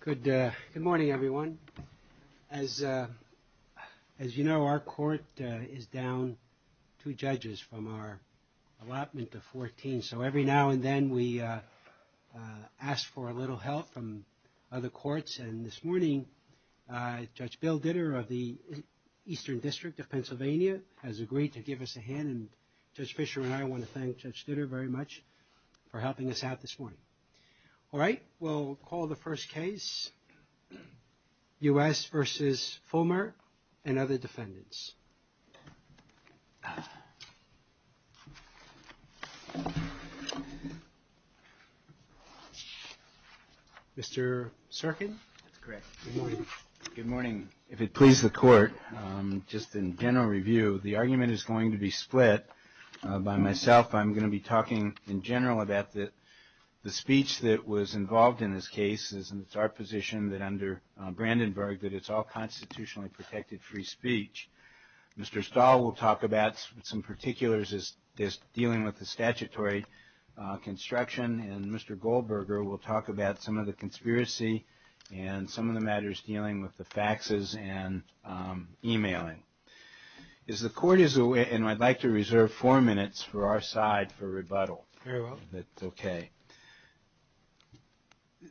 Good morning, everyone. As you know, our court is down two judges from our allotment of 14, so every now and then we ask for a little help from other courts, and this morning, Judge Bill Ditter of the Eastern District of Pennsylvania has agreed to give us a hand, and Judge Fischer and I want to thank Judge Ditter very much for helping us out this morning. All right. We'll call the first case, U.S. v. Fullmer and other defendants. Mr. Serkin? That's correct. Good morning. Good morning. If it pleases the court, just in general review, the argument is going to be split by myself and I'm going to be talking in general about the speech that was involved in this case and it's our position that under Brandenburg that it's all constitutionally protected free speech. Mr. Stahl will talk about some particulars as dealing with the statutory construction and Mr. Goldberger will talk about some of the conspiracy and some of the matters dealing with the faxes and emailing. The court is aware, and I'd like to reserve four minutes for our side for rebuttal. Very well. That's okay.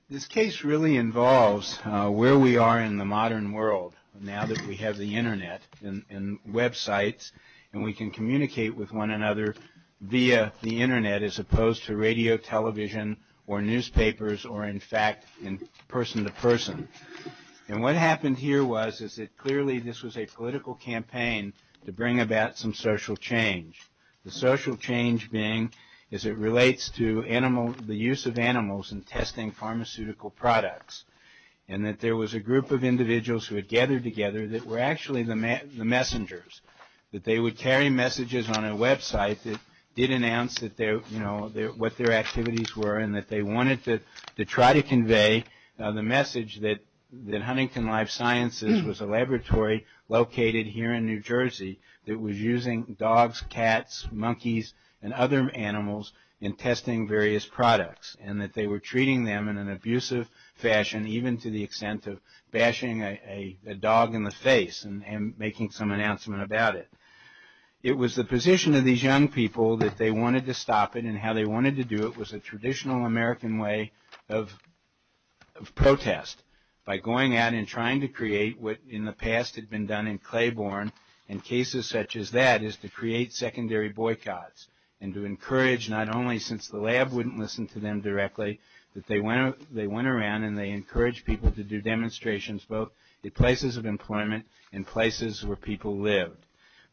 This case really involves where we are in the modern world now that we have the Internet and websites and we can communicate with one another via the Internet as opposed to radio, television, or newspapers, or in fact, in person to person, and what happened here was that clearly this was a political campaign to bring about some social change. The social change being as it relates to the use of animals in testing pharmaceutical products and that there was a group of individuals who had gathered together that were actually the messengers, that they would carry messages on a website that did announce what their activities were and that they wanted to try to convey the message that Huntington Life Sciences was a laboratory located here in New Jersey that was using dogs, cats, monkeys, and other animals in testing various products and that they were treating them in an abusive fashion even to the extent of bashing a dog in the face and making some announcement about it. It was the position of these young people that they wanted to stop it and how they wanted to do it was a traditional American way of protest by going out and trying to create what in the past had been done in Claiborne in cases such as that is to create secondary boycotts and to encourage not only since the lab wouldn't listen to them directly, but they went around and they encouraged people to do demonstrations both at places of employment and places where people lived.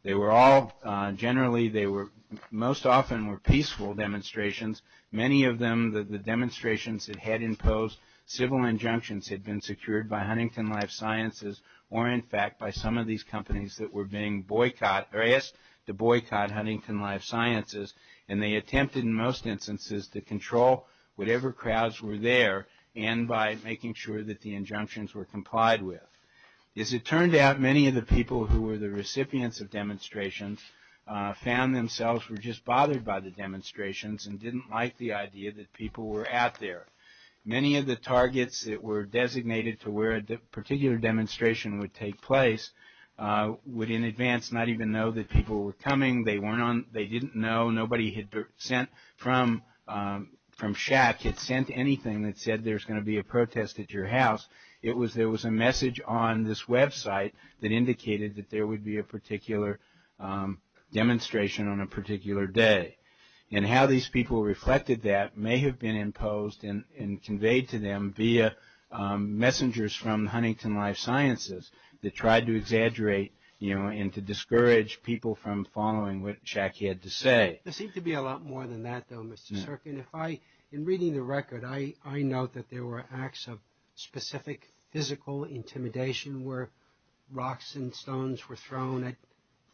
They were all generally, they were most often were peaceful demonstrations. Many of them, the demonstrations that had imposed civil injunctions had been secured by Huntington Life Sciences or in fact by some of these companies that were being boycotted or asked to boycott Huntington Life Sciences and they attempted in most instances to control whatever crowds were there and by making sure that the injunctions were complied with. As it turned out, many of the people who were the recipients of demonstrations found themselves were just bothered by the demonstrations and didn't like the idea that people were out there. Many of the targets that were designated to where the particular demonstration would take place would in advance not even know that people were coming, they didn't know, nobody had sent from shack had sent anything that said there's going to be a protest at your house. There was a message on this website that indicated that there would be a particular demonstration on a particular day and how these people reflected that may have been imposed and conveyed to them via messengers from Huntington Life Sciences that tried to exaggerate and to discourage people from following what shack had to say. There seems to be a lot more than that though, Mr. Serkin. In reading the record, I note that there were acts of specific physical intimidation where rocks and stones were thrown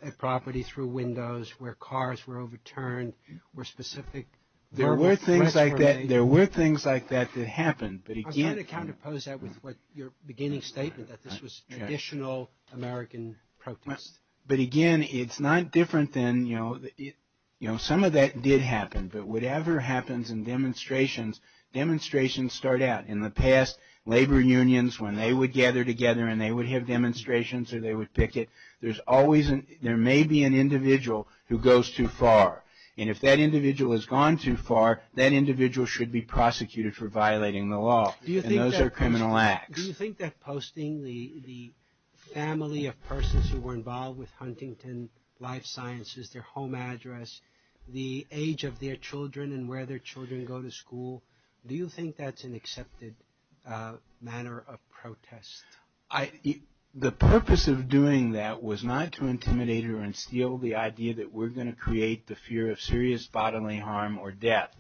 at property through windows, where cars were overturned, where specific... There were things like that that happened. I'm going to counterpose that with your beginning statement that this was traditional American protest. Again, it's not different than... Some of that did happen, but whatever happens in demonstrations, demonstrations start out. In the past, labor unions, when they would gather together and they would have demonstrations or they would picket, there may be an individual who goes too far. If that individual has gone too far, that individual should be prosecuted for violating the law. Those are criminal acts. Do you think that posting the family of persons who were involved with Huntington Life Sciences, their home address, the age of their children and where their children go to school, do you think that's an accepted manner of protest? The purpose of doing that was not to intimidate or instill the idea that we're going to create the fear of serious bodily harm or death.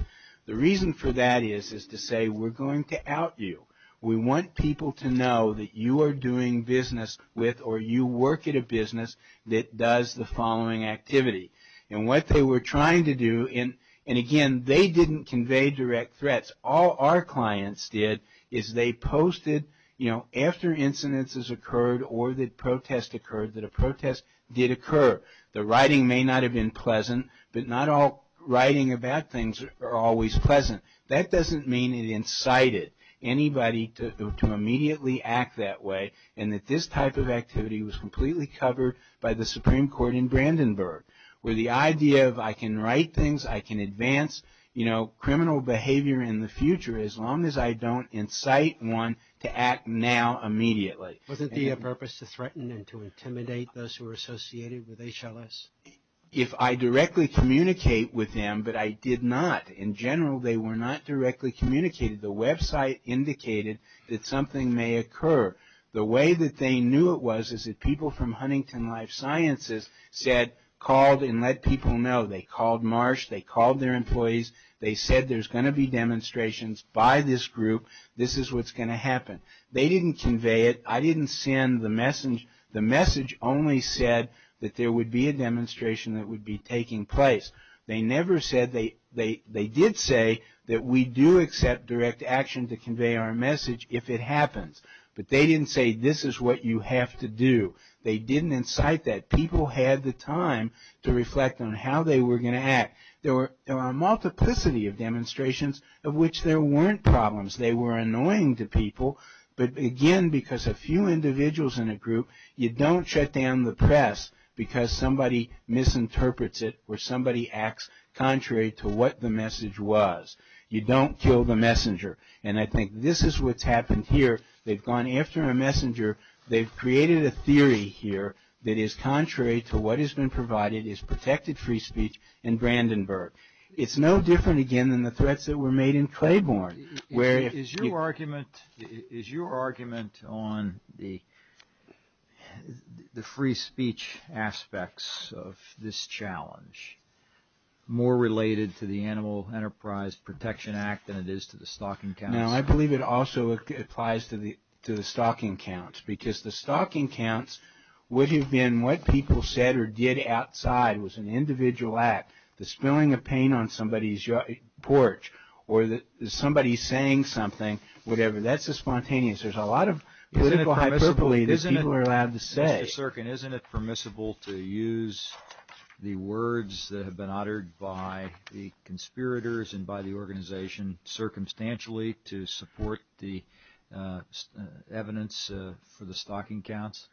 The reason for that is to say we're going to out you. We want people to know that you are doing business with or you work at a business that does the following activity. What they were trying to do, and again, they didn't convey direct threats. All our clients did is they posted, you know, after incidences occurred or the protest occurred that a protest did occur. The writing may not have been pleasant, but not all writing about things are always pleasant. That doesn't mean it incited anybody to immediately act that way and that this type of activity was completely covered by the Supreme Court in Brandenburg, where the idea of I can write things, I can advance, you know, criminal behavior in the future as long as I don't incite one to act now immediately. Would it be a purpose to threaten and to intimidate those who are associated with HLS? If I directly communicate with them, but I did not. In general, they were not directly communicating. The website indicated that something may occur. The way that they knew it was is that people from Huntington Life Sciences said, called and let people know. They called Marsh, they called their employees, they said there's going to be demonstrations by this group, this is what's going to happen. They didn't convey it. I didn't send the message. The message only said that there would be a demonstration that would be taking place. They never said, they did say that we do accept direct action to convey our message if it happens. But they didn't say this is what you have to do. They didn't incite that. People had the time to reflect on how they were going to act. There were a multiplicity of demonstrations of which there weren't problems. They were annoying to people, but again, because a few individuals in a group, you don't shut down the press because somebody misinterprets it or somebody acts contrary to what the message was. You don't kill the messenger. And I think this is what's happened here. They've gone after a messenger. They've created a theory here that is contrary to what has been provided, is protected free speech in Brandenburg. It's no different again than the threats that were made in Claiborne. Is your argument on the free speech aspects of this challenge more related to the Animal Enterprise Protection Act than it is to the Stalking Counts? Now, I believe it also applies to the Stalking Counts because the Stalking Counts would have been what people said or did outside was an individual act. The spilling of paint on somebody's porch or somebody saying something, whatever. That's a spontaneous. There's a lot of political hyperbole that people are allowed to say. Mr. Serkin, isn't it permissible to use the words that have been uttered by the conspirators and by the organization circumstantially to support the evidence for the Stalking Counts?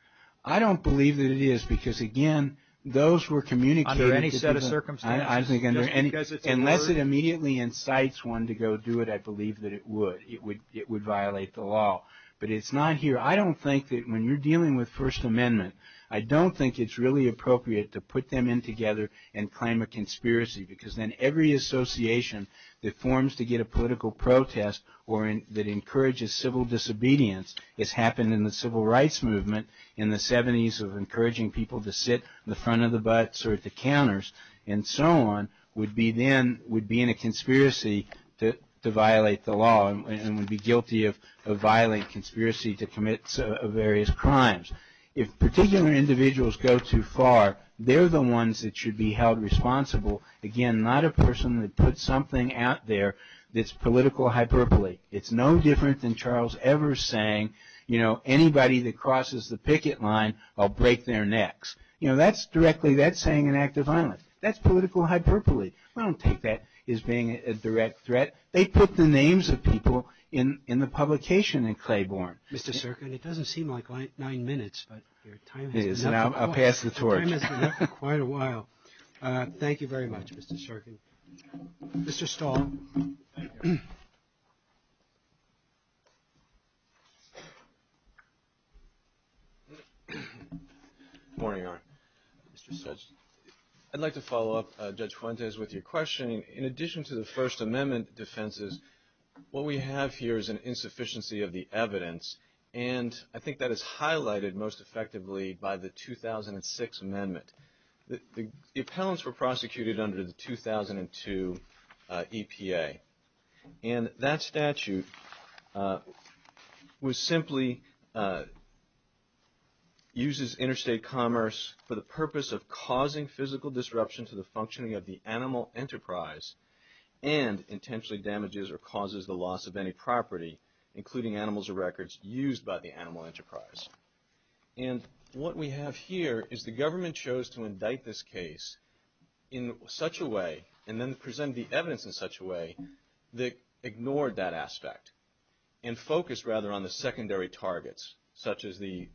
I don't believe that it is because, again, those who are communicating to the- Under any set of circumstances? I think under any- Unless it immediately incites one to go do it, I believe that it would. It would violate the law, but it's not here. I don't think that when you're dealing with First Amendment, I don't think it's really appropriate to put them in together and claim a conspiracy because then every association that forms to get a political protest or that encourages civil disobedience, it's happened in the Civil Rights Movement in the 70s of encouraging people to sit in the front of the bus or at the counters and so on, would be then, would be in a conspiracy to violate the law and would be guilty of violating conspiracy to commit various crimes. If particular individuals go too far, they're the ones that should be held responsible. Again, not a person that put something out there that's political hyperbole. It's no different than Charles ever saying, you know, anybody that crosses the picket line, I'll break their necks. You know, that's directly, that's saying an act of violence. That's political hyperbole. I don't think that is being a direct threat. They put the names of people in the publication in Claiborne. Mr. Storkin, it doesn't seem like nine minutes, but your time is up. It is, and I'll pass the torch. Your time is up for quite a while. Thank you very much, Mr. Storkin. Mr. Stahl. Thank you. Good morning, Mr. Judge. I'd like to follow up, Judge Fuentes, with your question. In addition to the First Amendment defenses, what we have here is an insufficiency of the evidence, and I think that is highlighted most effectively by the 2006 Amendment. The appellants were prosecuted under the 2002 EPA, and that statute was simply uses interstate commerce for the purpose of causing physical disruption to the functioning of the animal enterprise and intentionally damages or causes the loss of any property, including animals or records used by the animal enterprise. And what we have here is the government chose to indict this case in such a way and then present the evidence in such a way that ignored that aspect and focused rather on the secondary targets, such as the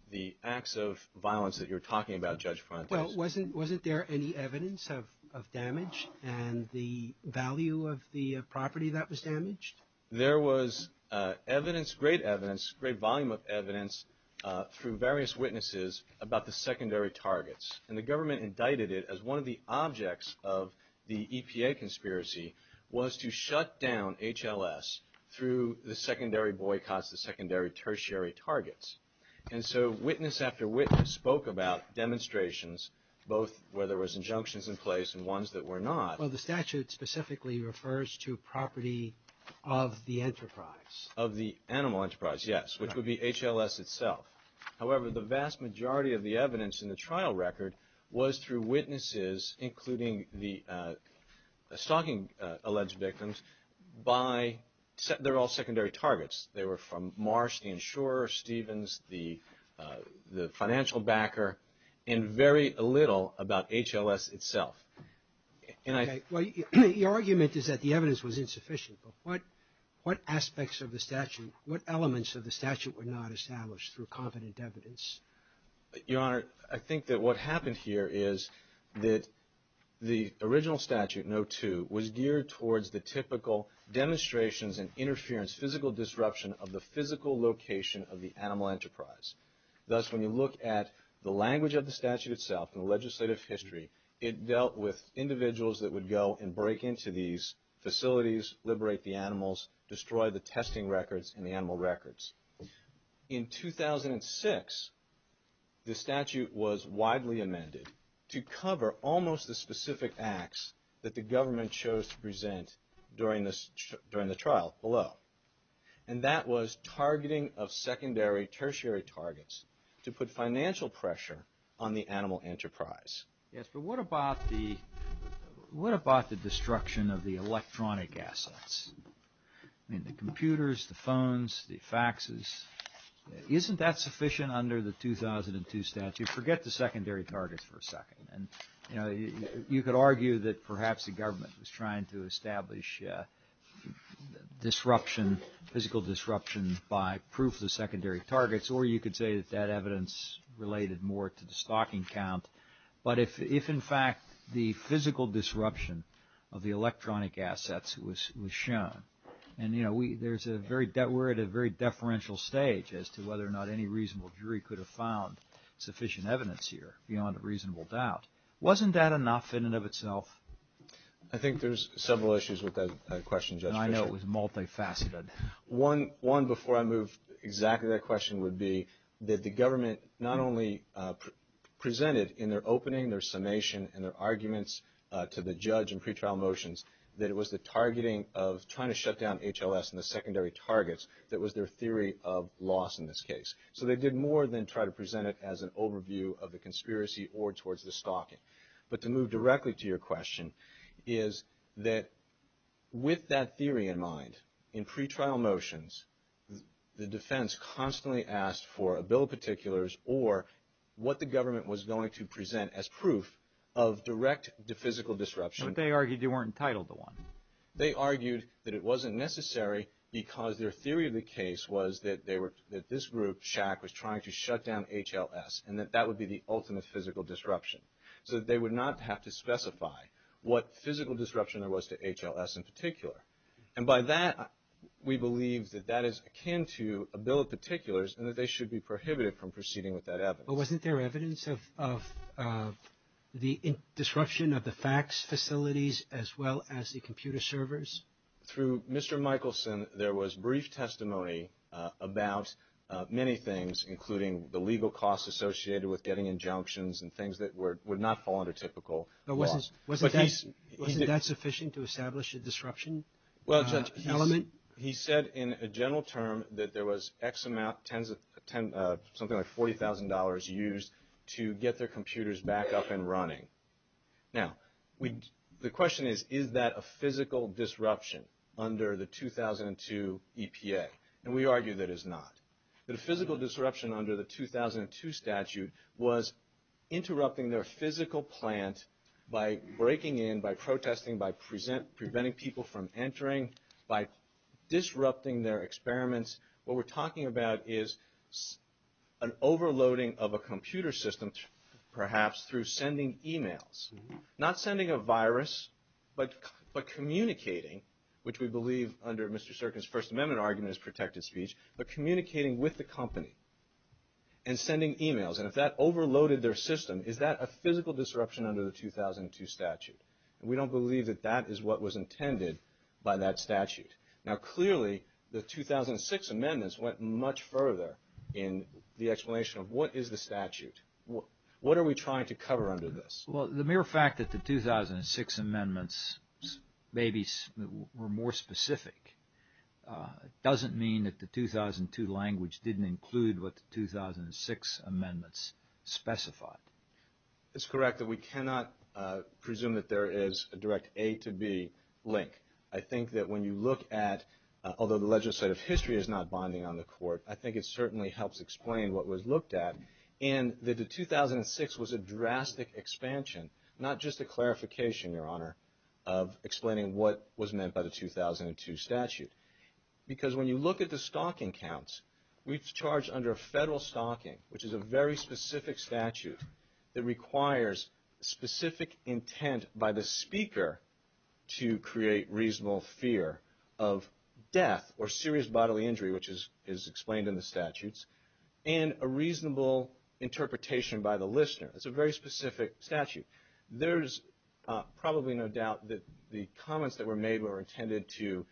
acts of violence that you're talking about, Judge Fuentes. Well, wasn't there any evidence of damage and the value of the property that was damaged? There was evidence, great evidence, great volume of evidence from various witnesses about the secondary targets, and the government indicted it as one of the objects of the EPA conspiracy was to shut down HLS through the secondary boycotts, the secondary tertiary targets. And so witness after witness spoke about demonstrations, both where there was injunctions in place and ones that were not. Well, the statute specifically refers to property of the enterprise. Of the animal enterprise, yes, which would be HLS itself. However, the vast majority of the evidence in the trial record was through witnesses, including the stalking alleged victims by – they're all secondary targets. They were from Marsh, the insurer, Stevens, the financial backer, and very little about HLS itself. Okay, well, your argument is that the evidence was insufficient, but what aspects of the statute – what elements of the statute were not established through confident evidence? Your Honor, I think that what happened here is that the original statute, No. 2, was geared towards the typical demonstrations and interference, physical disruption of the physical location of the animal enterprise. Thus, when you look at the language of the statute itself and the legislative history, it dealt with individuals that would go and break into these facilities, liberate the animals, destroy the testing records and the animal records. In 2006, the statute was widely amended to cover almost the specific acts that the government chose to present during the trial below. And that was targeting of secondary tertiary targets to put financial pressure on the animal enterprise. Yes, but what about the – what about the destruction of the electronic assets? I mean, the computers, the phones, the faxes – isn't that sufficient under the 2002 statute? Forget the secondary targets for a second. And, you know, you could argue that perhaps the government was trying to establish disruption, physical disruption, by proof of the secondary targets, or you could say that that evidence related more to the stocking count. But if, in fact, the physical disruption of the electronic assets was shown, and, you know, we – there's a very – we're at a very deferential stage as to whether or not any reasonable jury could have found sufficient evidence here beyond a reasonable doubt. Wasn't that enough in and of itself? I think there's several issues with that question, Jeff. And I know it was multifaceted. One, before I move exactly to that question, would be that the government not only presented in their opening, their summation, and their arguments to the judge in pretrial motions that it was the targeting of trying to shut down HLS and the secondary targets that was their theory of loss in this case. So they did more than try to present it as an overview of the conspiracy or towards the stocking. But to move directly to your question is that with that theory in mind, in pretrial motions, the defense constantly asked for a bill of particulars or what the government was going to present as proof of direct physical disruption. But they argued they weren't entitled to one. They argued that it wasn't necessary because their theory of the case was that they were – that this group, SHAC, was trying to shut down HLS and that that would be the ultimate physical disruption. So that they would not have to specify what physical disruption there was to HLS in particular. And by that, we believe that that is akin to a bill of particulars and that they should be prohibited from proceeding with that evidence. But wasn't there evidence of the disruption of the fax facilities as well as the computer servers? Through Mr. Michelson, there was brief testimony about many things, including the legal costs associated with getting injunctions and things that would not fall under typical law. But wasn't that sufficient to establish a disruption element? He said in a general term that there was X amount – something like $40,000 used to get their computers back up and running. Now, the question is, is that a physical disruption under the 2002 EPA? And we argue that it's not. The physical disruption under the 2002 statute was interrupting their physical plant by breaking in, by protesting, by preventing people from entering, by disrupting their experiments. What we're talking about is an overloading of a computer system, perhaps through sending emails. Not sending a virus, but communicating, which we believe under Mr. Sirkin's First Amendment argument is protected speech, but communicating with the company and sending emails. And if that overloaded their system, is that a physical disruption under the 2002 statute? And we don't believe that that is what was intended by that statute. Now, clearly, the 2006 amendments went much further in the explanation of what is the statute. What are we trying to cover under this? Well, the mere fact that the 2006 amendments maybe were more specific doesn't mean that the 2002 language didn't include what the 2006 amendments specified. That's correct, but we cannot presume that there is a direct A to B link. I think that when you look at – although the legislative history is not bonding on the Court, I think it certainly helps explain what was looked at, and that the 2006 was a drastic expansion, not just a clarification, Your Honor, of explaining what was meant by the 2002 statute. Because when you look at the stalking counts, we've charged under federal stalking, which is a very specific statute that requires specific intent by the speaker to create reasonable fear of death or serious bodily injury, which is explained in the statutes, and a reasonable interpretation by the listener. It's a very specific statute. There's probably no doubt that the comments that were made were intended to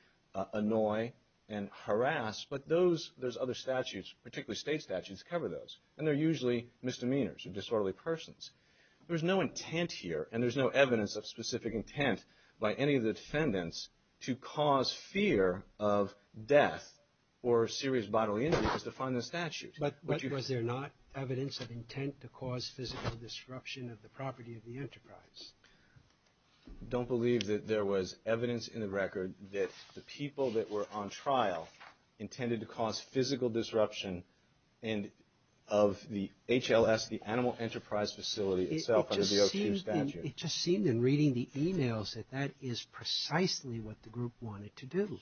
annoy and harass, but those – those other statutes, particularly state statutes, cover those, and they're usually misdemeanors or disorderly persons. There's no intent here, and there's no evidence of specific intent by any of the defendants to cause fear of death or serious bodily injury as defined in the statutes. But was there not evidence of intent to cause physical disruption of the property of the enterprise? Don't believe that there was evidence in the record that the people that were on trial intended to cause physical disruption of the HLS, the Animal Enterprise Facility itself under the OQ statute. It just seemed in reading the emails that that is precisely what the group wanted to do.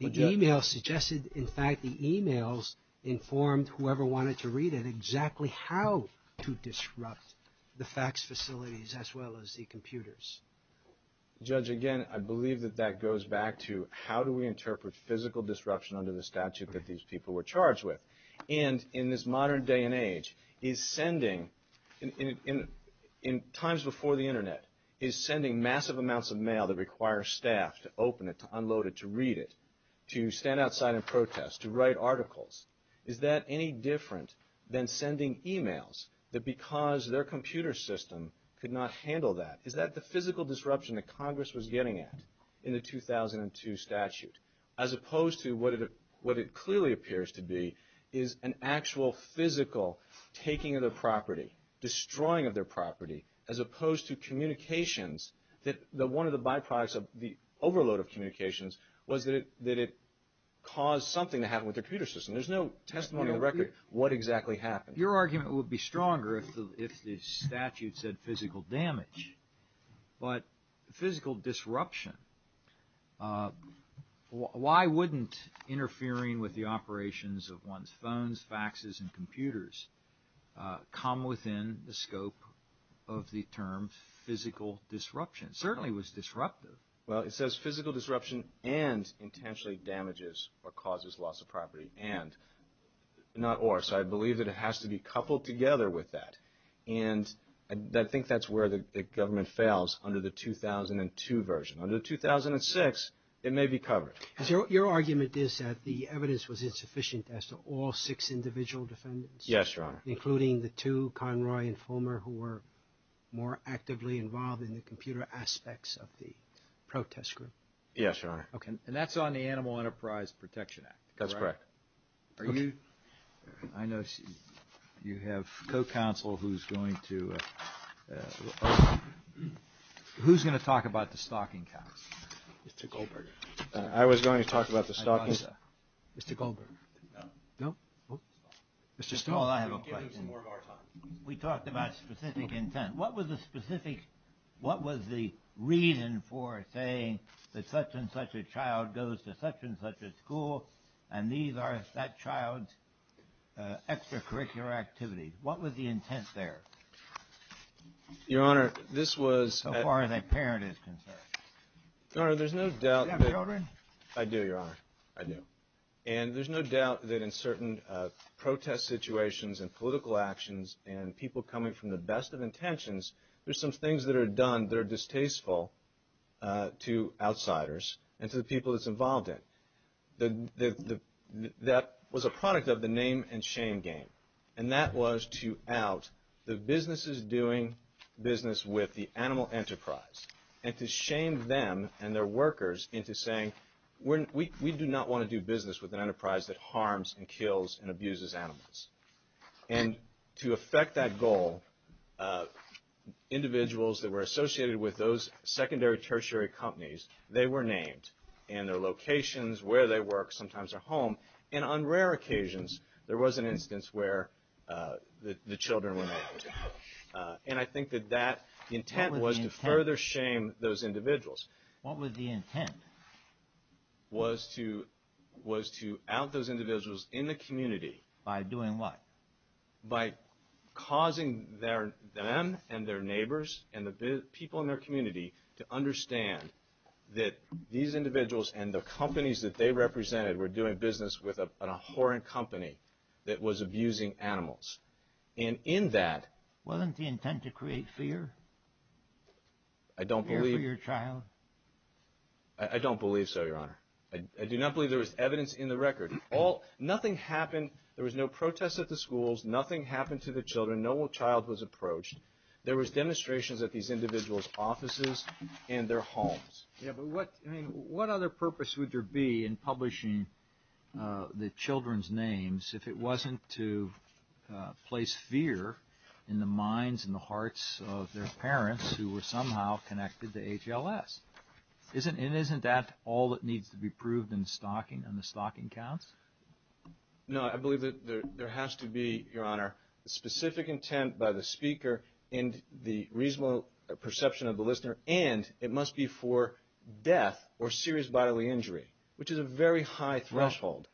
The email suggested – in fact, the emails informed whoever wanted to read it exactly how to disrupt the fax facilities as well as the computers. Judge, again, I believe that that goes back to how do we interpret physical disruption under the statute that these people were charged with? And in this modern day and age, is sending – in times before the internet, is sending massive amounts of mail that requires staff to open it, to unload it, to read it, to stand outside in protest, to write articles, is that any different than sending emails that because their computer system could not handle that? Is that the physical disruption that Congress was getting at in the 2002 statute? As opposed to what it clearly appears to be is an actual physical taking of the property, destroying of their property, as opposed to communications that one of the byproducts of the overload of communications was that it caused something to happen with their computer system. There's no testimony on the record what exactly happened. Your argument would be stronger if the statute said physical damage. But physical disruption, why wouldn't interfering with the operations of one's phones, faxes and computers come within the scope of the term physical disruption? It certainly was disruptive. Well, it says physical disruption and intentionally damages or causes loss of property and, not or, so I believe that it has to be coupled together with that. And I think that's where the government fails under the 2002 version. Under the 2006, it may be covered. Your argument is that the evidence was insufficient as to all six individual defendants? Yes, Your Honor. Including the two, Conroy and Fulmer, who were more actively involved in the computer aspects of the protest group? Yes, Your Honor. Okay. And that's on the Animal Enterprise Protection Act? That's correct. Are you, I know you have co-counsel who's going to, who's going to talk about the stocking count? Mr. Goldberger. I was going to talk about the stocking. Mr. Goldberger. No. Mr. Stone, I have a question. We talked about specific intent. What was the specific, what was the reason for saying that such and such a child goes to such and such a school and these are that child's extracurricular activities? What was the intent there? Your Honor, this was... How far that parent is concerned. Your Honor, there's no doubt... You have it already? I do, Your Honor. I do. And there's no doubt that in certain protest situations and political actions and people coming from the best of intentions, there's some things that are done that are distasteful to outsiders and to the people that's involved in. That was a product of the name and shame game. And that was to out the businesses doing business with the animal enterprise. And to shame them and their workers into saying, we do not want to do business with an enterprise that harms and kills and abuses animals. And to affect that goal, individuals that were associated with those secondary tertiary companies, they were named. And their locations, where they work, sometimes their home. And on rare occasions, there was an instance where the children went out. And I think that that intent was to further shame those individuals. What was the intent? Was to out those individuals in the community. By doing what? By causing them and their neighbors and the people in their community to understand that these individuals and the companies that they represented were doing business with an abhorrent company that was abusing animals. And in that... Wasn't the intent to create fear? I don't believe... For your child? I don't believe so, Your Honor. I do not believe there was evidence in the record. Nothing happened. There was no protest at the schools. Nothing happened to the children. No child was approached. There was demonstrations at these individuals' offices and their homes. Yeah, but what other purpose would there be in publishing the children's names if it wasn't to place fear in the minds and the hearts of their parents who were somehow connected to HLS? And isn't that all that needs to be proved in the Stalking Council? No, I believe that there has to be, Your Honor, a specific intent by the speaker and the reasonable perception of the listener, and it must be for death or serious bodily injury, which is a very high threshold.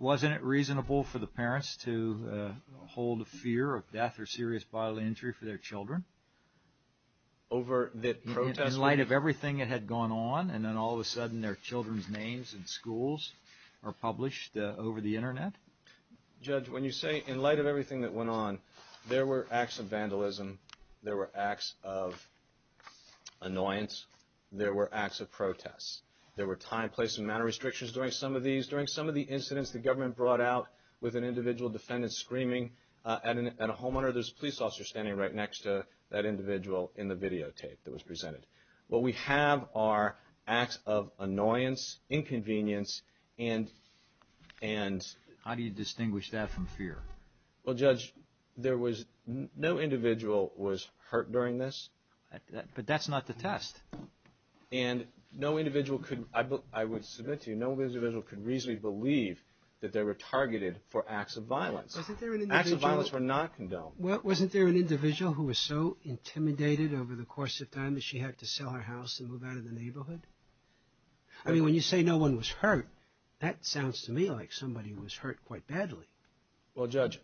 Wasn't it reasonable for the parents to hold a fear of death or serious bodily injury for their children? Over the protests? In light of everything that had gone on, and then all of a sudden their children's names in schools are published over the Internet? Judge, when you say, in light of everything that went on, there were acts of vandalism, there were acts of annoyance, there were acts of protests. There were time, place, and manner restrictions during some of these. During some of the incidents the government brought out with an individual defendant screaming at a homeowner, there's a police officer standing right next to that individual in the videotape that was presented. What we have are acts of annoyance, inconvenience, and... How do you distinguish that from fear? Well, Judge, no individual was hurt during this. But that's not the test. And no individual could, I would submit to you, no individual could reasonably believe that they were targeted for acts of violence. Acts of violence were not condoned. Wasn't there an individual who was so intimidated over the course of time that she had to sell her house and move out of the neighborhood? I mean, when you say no one was hurt, that sounds to me like somebody was hurt quite badly. Well, Judge,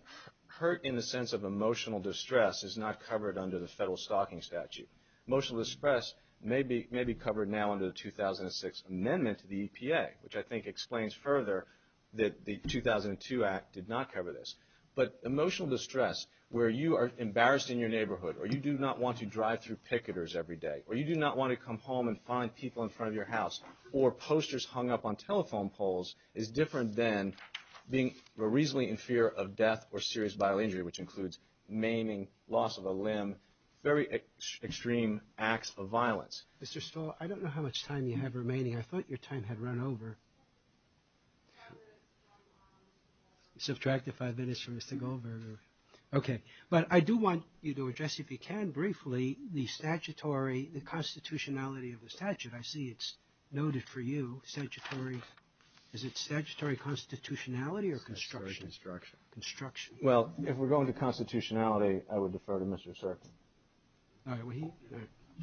hurt in the sense of emotional distress is not covered under the federal stalking statute. Emotional distress may be covered now under the 2006 amendment to the EPA, which I think explains further that the 2002 act did not cover this. But emotional distress, where you are embarrassed in your neighborhood, or you do not want to drive through picketers every day, or you do not want to come home and find people in front of your house, or posters hung up on telephone poles, is different than being reasonably in fear of death or serious vital injury, which includes maiming, loss of a limb, very extreme acts of violence. Mr. Stoll, I don't know how much time you have remaining. I thought your time had run over. Subtract the five minutes for Mr. Goldberg. Okay. But I do want you to address, if you can, briefly, the statutory, the constitutionality of the statute. I see it's noted for you, statutory. Is it statutory constitutionality or construction? Construction. Construction. Well, if we're going to constitutionality, I would defer to Mr. Serkin. All right.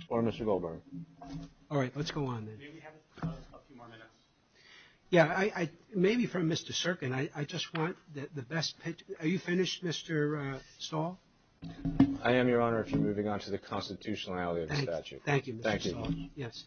Or Mr. Goldberg. All right. Let's go on then. We maybe have a few more minutes. Yeah. Maybe from Mr. Serkin. I just want the best. Are you finished, Mr. Stoll? I am, Your Honor, if you're moving on to the constitutionality of the statute. Thank you, Mr. Stoll. Thank you. Yes.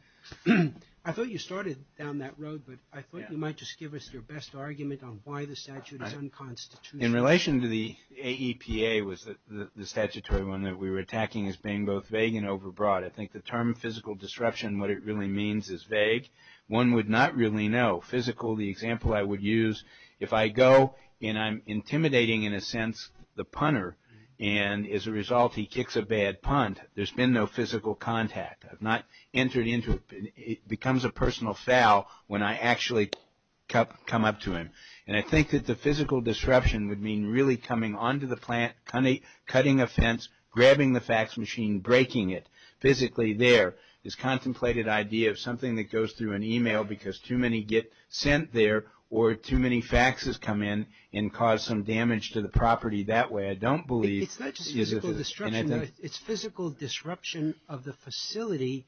I thought you started down that road, but I thought you might just give us your best argument on why the statute is unconstitutional. In relation to the AEPA was the statutory one that we were attacking as being both vague and overbroad. I think the term physical disruption, what it really means, is vague. One would not really know. Physical, the example I would use, if I go and I'm intimidating, in a sense, the punter, and as a result, he kicks a bad punt, there's been no physical contact. I've not entered into it. It becomes a personal foul when I actually come up to him. And I think that the physical disruption would mean really coming onto the plant, cutting a fence, grabbing the fax machine, breaking it, physically there, this contemplated idea of something that goes through an email because too many get sent there or too many faxes come in and cause some damage to the property that way. I don't believe... It's not just physical disruption. It's physical disruption of the facility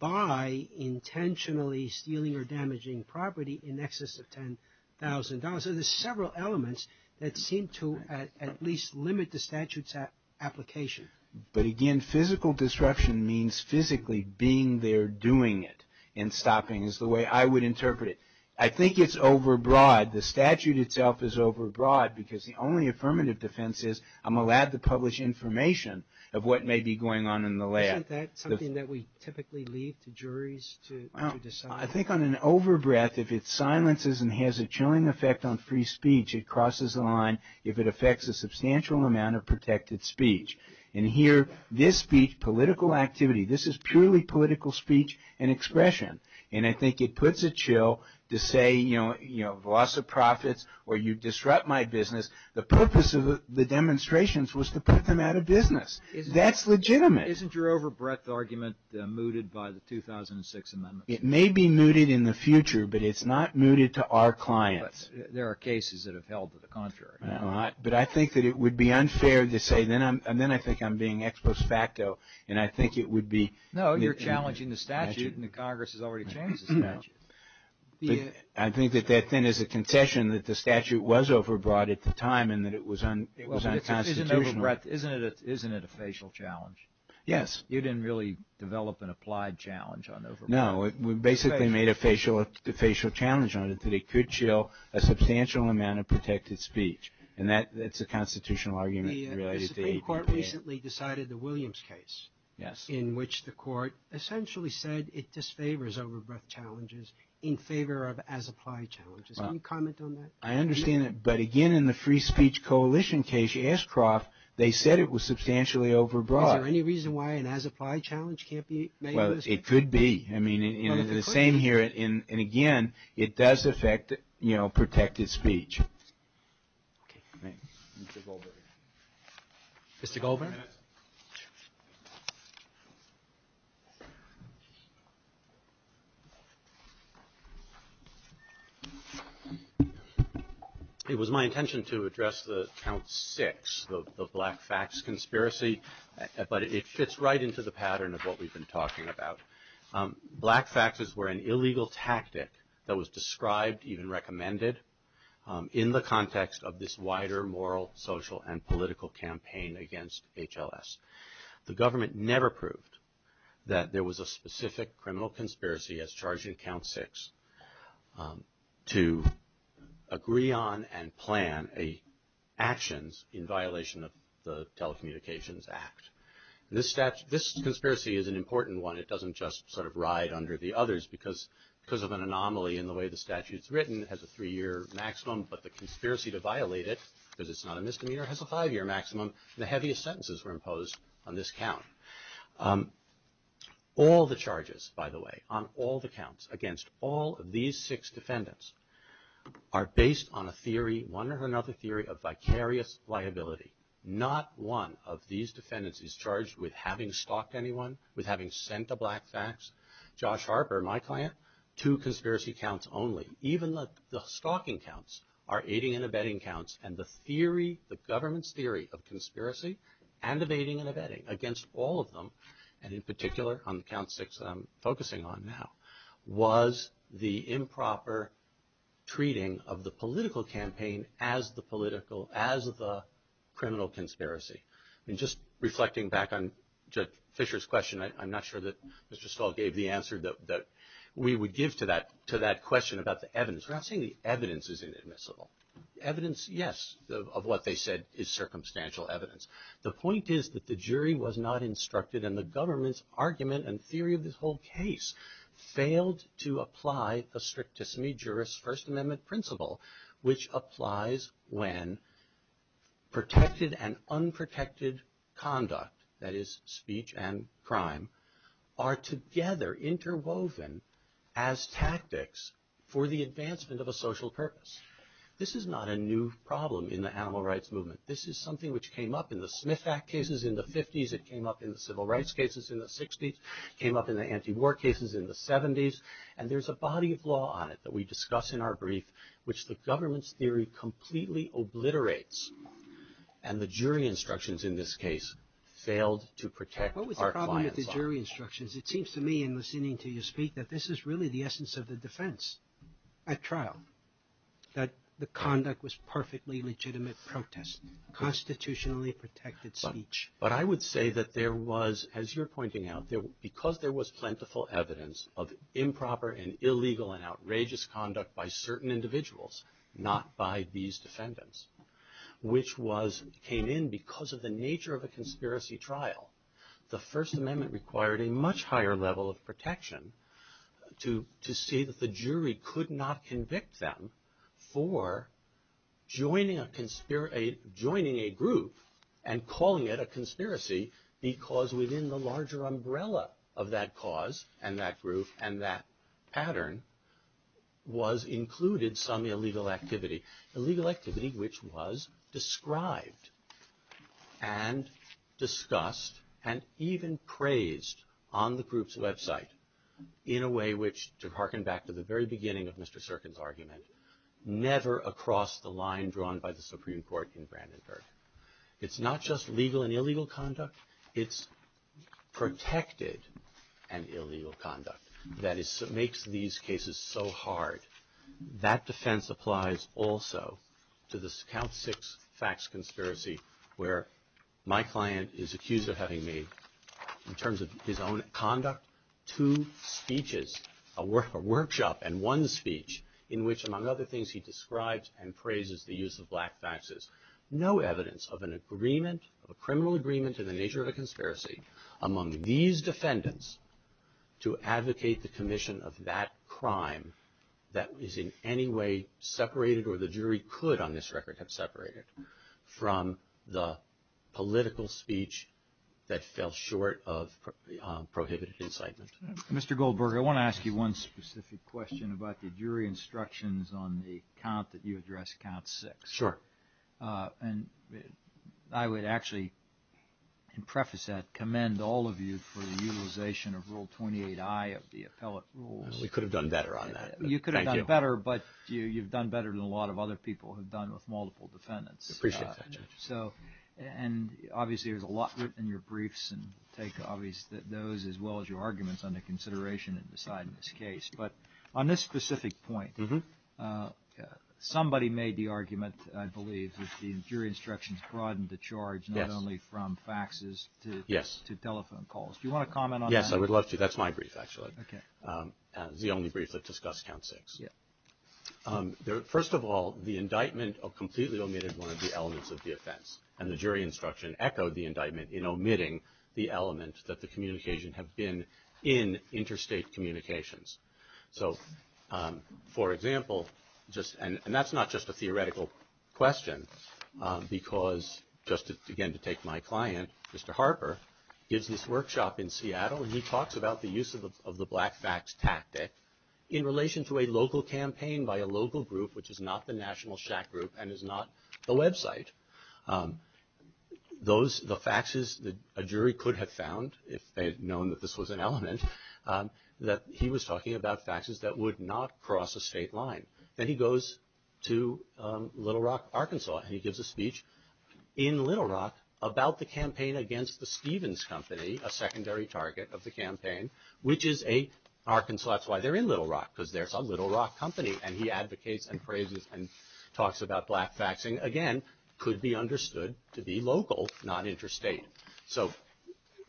by intentionally stealing or damaging property in excess of $10,000. There's several elements that seem to at least limit the statute's application. But again, physical disruption means physically being there, doing it, and stopping. It's the way I would interpret it. I think it's overbroad. The statute itself is overbroad because the only affirmative defense is I'm allowed to publish information of what may be going on in the lab. Isn't that something that we typically leave to juries to decide? I think on an overbreath, if it silences and has a chilling effect on free speech, it crosses the line if it affects a substantial amount of protected speech. And here, this speech, political activity, this is purely political speech and expression. And I think it puts a chill to say, you know, loss of profits or you disrupt my business. The purpose of the demonstrations was to put them out of business. That's legitimate. Isn't your overbreath argument mooted by the 2006 amendment? It may be mooted in the future, but it's not mooted to our clients. There are cases that have held to the contrary. But I think that it would be unfair to say, and then I think I'm being ex post facto, and I think it would be... No, you're challenging the statute, and the Congress has already changed the statute. I think that then is a contention that the statute was overbroad at the time, and that it was unconstitutional. Isn't it a facial challenge? Yes. You didn't really develop an applied challenge on overbreath. No, we basically made a facial challenge on it, that it could chill a substantial amount of protected speech. And that's a constitutional argument. The Supreme Court recently decided the Williams case, in which the court essentially said it disfavors overbreath challenges in favor of as-applied challenges. Can you comment on that? I understand that. But again, in the Free Speech Coalition case, Ashcroft, they said it was substantially overbroad. Is there any reason why an as-applied challenge can't be made? Well, it could be. I mean, it's the same here. And again, it does affect, you know, protected speech. Mr. Goldberg. Mr. Goldberg? It was my intention to address the count six, the Black Facts conspiracy, but it fits right into the pattern of what we've been talking about. Black Facts was an illegal tactic that was described, even recommended, in the context of this wider moral, social, and political campaign against HLS. The government never proved that there was a specific criminal conspiracy as charged in count six to agree on and plan actions in violation of the Telecommunications Act. This conspiracy is an important one. It doesn't just sort of ride under the others because of an anomaly in the way the statute's written. It has a three-year maximum, but the conspiracy to violate it, because it's not a misdemeanor, has a five-year maximum. The heaviest sentences were imposed on this count. All the charges, by the way, on all the counts against all of these six defendants are based on a theory, one or another theory of vicarious liability. Not one of these defendants is charged with having stalked anyone, with having sent the Black Facts. Josh Harper, my client, two conspiracy counts only. Even the stalking counts are aiding and abetting counts, and the theory, the government's theory of conspiracy and abetting and abetting against all of them, and in particular on count six that I'm focusing on now, was the improper treating of the political campaign as the political, as the criminal conspiracy. Just reflecting back on Jeff Fisher's question, I'm not sure that Mr. Stahl gave the answer that we would give to that question about the evidence. I'm not saying the evidence is inadmissible. Evidence, yes, of what they said is circumstantial evidence. The point is that the jury was not instructed and the government's argument and theory of this whole case failed to apply the strictest knee-jurist First Amendment principle, which applies when protected and unprotected conduct, that is speech and crime, are together interwoven as tactics for the advancement of a social purpose. This is not a new problem in the animal rights movement. This is something which came up in the Smith Act cases in the 50s, it came up in the civil rights cases in the 60s, it came up in the anti-war cases in the 70s, and there's a body of law on it that we discuss in our brief which the government's theory completely obliterates, and the jury instructions in this case failed to protect our clients. What was the problem with the jury instructions? It seems to me in listening to you speak that this is really the essence of the defense at trial, that the conduct was perfectly legitimate protest, constitutionally protected speech. But I would say that there was, as you're pointing out, because there was plentiful evidence of improper and illegal and outrageous conduct by certain individuals, not by these defendants, which came in because of the nature of a conspiracy trial. The First Amendment required a much higher level of protection to see that the jury could not convict them for joining a group and calling it a conspiracy because within the larger umbrella of that cause and that group and that pattern was included some illegal activity, illegal activity which was described and discussed and even praised on the group's website in a way which, to hearken back to the very beginning of Mr. Serkin's argument, never across the line drawn by the Supreme Court in Brandenburg. It's not just legal and illegal conduct, it's protected and illegal conduct that makes these cases so hard. That defense applies also to this Count Six Facts conspiracy where my client is accused of having made, in terms of his own conduct, two speeches, a workshop and one speech in which among other things he describes and praises the use of black faxes. No evidence of a criminal agreement in the nature of a conspiracy among these defendants to advocate the commission of that crime that is in any way separated or the jury could on this record have separated from the political speech that fell short of prohibited incitement. Mr. Goldberger, I want to ask you one specific question about the jury instructions on the count that you addressed, Count Six. Sure. And I would actually preface that, commend all of you for the utilization of Rule 28i of the appellate rules. We could have done better on that. You could have done better but you've done better than a lot of other people who've done with multiple defendants. Appreciate that. So, and obviously there's a lot in your briefs and I'll take those as well as your arguments under consideration in deciding this case. But on this specific point, somebody made the argument, I believe, that the jury instructions broadened the charge not only from faxes to telephone calls. Do you want to comment on that? Yes, I would love to. That's my brief actually. Okay. The only brief that discussed Count Six. First of all, the indictment completely omitted one of the elements of the offense and the jury instruction echoed the indictment in omitting the elements that the communications have been in interstate communications. So, for example, and that's not just a theoretical question because just again to take my client, Mr. Harper, gives this workshop in Seattle and he talks about the use of the black fax tactic in relation to a local campaign by a local group which is not the National Shack Group and is not the website. Those, the faxes that a jury could have found if they had known that this was an element, that he was talking about faxes that would not cross a state line. Then he goes to Little Rock, Arkansas, and he gives a speech in Little Rock about the campaign against the Stevens Company, a secondary target of the campaign, which is a, Arkansas, that's why they're in Little Rock, because they're a Little Rock company, and he advocates and praises and talks about black faxing. Again, could be understood to be local, not interstate. So,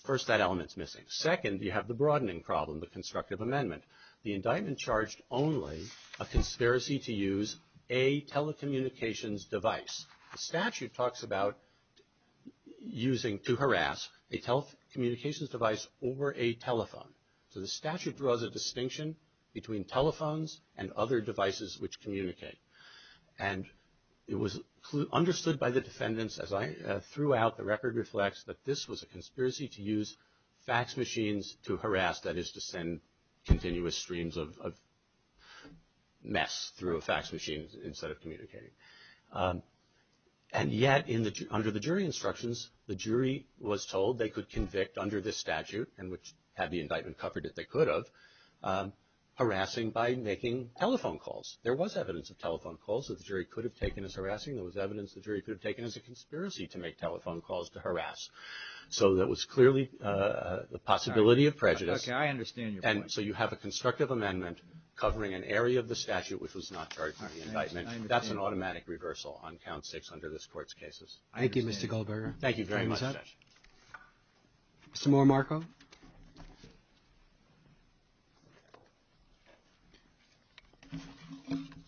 first, that element's missing. Second, you have the broadening problem, the constructive amendment. The indictment charged only a conspiracy to use a telecommunications device. The statute talks about using, to harass, a telecommunications device over a telephone. So the statute draws a distinction between telephones and other devices which communicate. And it was understood by the defendants, as I threw out, the record reflects that this was a conspiracy to use fax machines to harass, that is to send continuous streams of mess through a fax machine instead of communicating. And yet, under the jury instructions, the jury was told they could convict under this statute, and which had the indictment covered that they could have, harassing by making telephone calls. There was evidence of telephone calls that the jury could have taken as harassing. There was evidence the jury could have taken as a conspiracy to make telephone calls to harass. So there was clearly the possibility of prejudice. Okay, I understand your point. And so you have a constructive amendment covering an area of the statute which was not charged in the indictment. That's an automatic reversal on count six under this court's cases. Thank you, Mr. Goldberger. Thank you very much, Judge. Some more, Marco? Good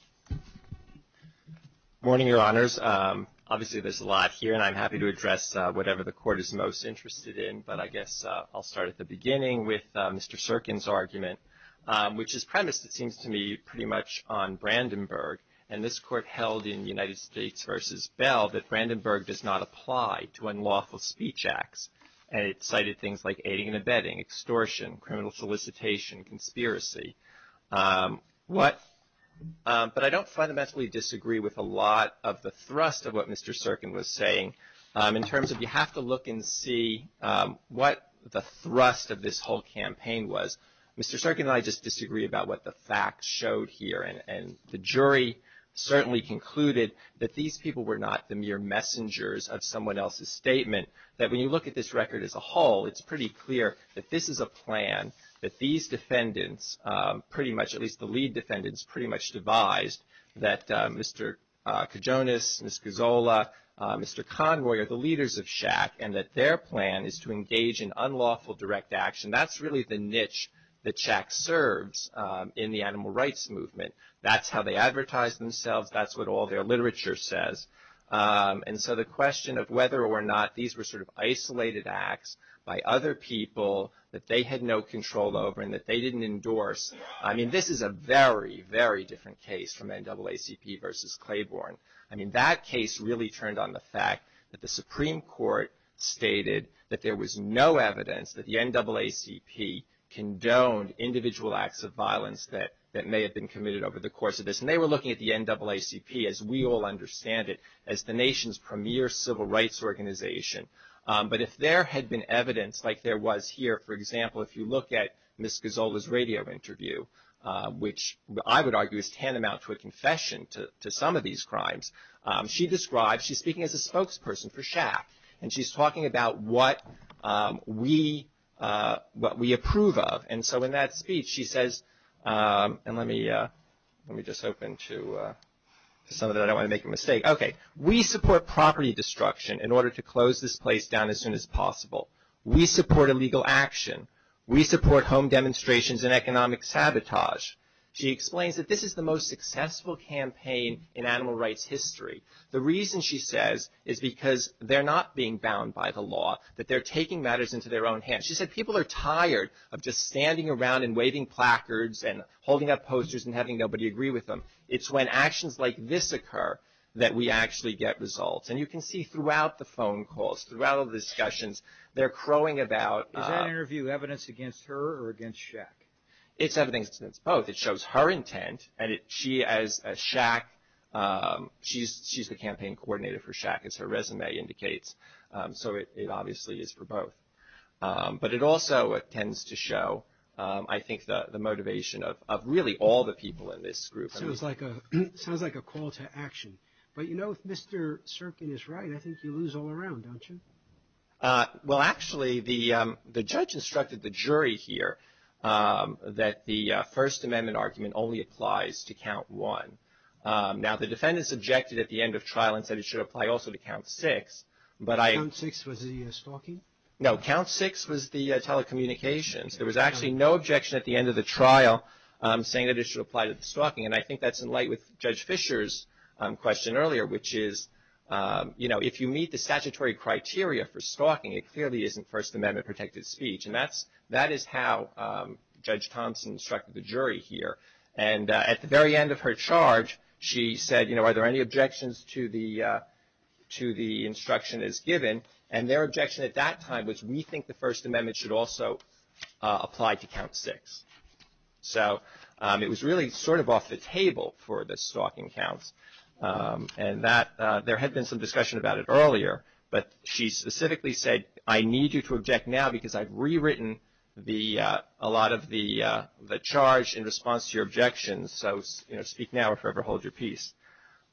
morning, Your Honors. Obviously there's a lot here, and I'm happy to address whatever the court is most interested in. But I guess I'll start at the beginning with Mr. Serkin's argument, which is premised, it seems to me, pretty much on Brandenburg. And this court held in United States v. Bell that Brandenburg does not apply to unlawful speech acts. And it cited things like aiding and abetting, extortion, criminal solicitation, conspiracy. But I don't fundamentally disagree with a lot of the thrust of what Mr. Serkin was saying. In terms of you have to look and see what the thrust of this whole campaign was, Mr. Serkin and I just disagree about what the facts showed here. And the jury certainly concluded that these people were not the mere messengers of someone else's statement, that when you look at this record as a whole, it's pretty clear that this is a plan that these defendants pretty much, at least the lead defendants, pretty much devised that Mr. Kajonas, Ms. Gozola, Mr. Conroy are the leaders of CHAC and that their plan is to engage in unlawful direct action. And that's really the niche that CHAC serves in the animal rights movement. That's how they advertise themselves. That's what all their literature says. And so the question of whether or not these were sort of isolated acts by other people that they had no control over and that they didn't endorse, I mean, this is a very, very different case from NAACP v. Claiborne. I mean, that case really turned on the fact that the Supreme Court stated that there was no evidence that the NAACP condoned individual acts of violence that may have been committed over the course of this. And they were looking at the NAACP, as we all understand it, as the nation's premier civil rights organization. But if there had been evidence like there was here, for example, if you look at Ms. Gozola's radio interview, which I would argue is tantamount to a confession to some of these crimes, she describes, she's speaking as a spokesperson for CHAC, and she's talking about what we approve of. And so in that speech she says, and let me just open to some of it. I don't want to make a mistake. Okay. We support property destruction in order to close this place down as soon as possible. We support illegal action. We support home demonstrations and economic sabotage. She explains that this is the most successful campaign in animal rights history. The reason, she says, is because they're not being bound by the law, that they're taking matters into their own hands. She said people are tired of just standing around and waving placards and holding up posters and having nobody agree with them. It's when actions like this occur that we actually get results. And you can see throughout the phone calls, throughout all the discussions, they're crowing about. Is that interview evidence against her or against CHAC? It's evidence against both. It shows her intent. And she, as CHAC, she's the campaign coordinator for CHAC. It's her resume indicates. So it obviously is for both. But it also tends to show, I think, the motivation of really all the people in this group. It sounds like a call to action. But you know, if Mr. Serkin is right, I think you lose all around, don't you? Well, actually, the judge instructed the jury here that the First Amendment argument only applies to count one. Now, the defendants objected at the end of trial and said it should apply also to count six. Count six was the stalking? No, count six was the telecommunications. There was actually no objection at the end of the trial saying that it should apply to the stalking. And I think that's in light with Judge Fischer's question earlier, which is, you know, if you meet the statutory criteria for stalking, it clearly isn't First Amendment protected speech. And that is how Judge Thompson instructed the jury here. And at the very end of her charge, she said, you know, are there any objections to the instruction as given? And their objection at that time was we think the First Amendment should also apply to count six. So it was really sort of off the table for the stalking counts. And there had been some discussion about it earlier, but she specifically said, I need you to object now because I've rewritten a lot of the charge in response to your objections. So, you know, speak now or forever hold your peace.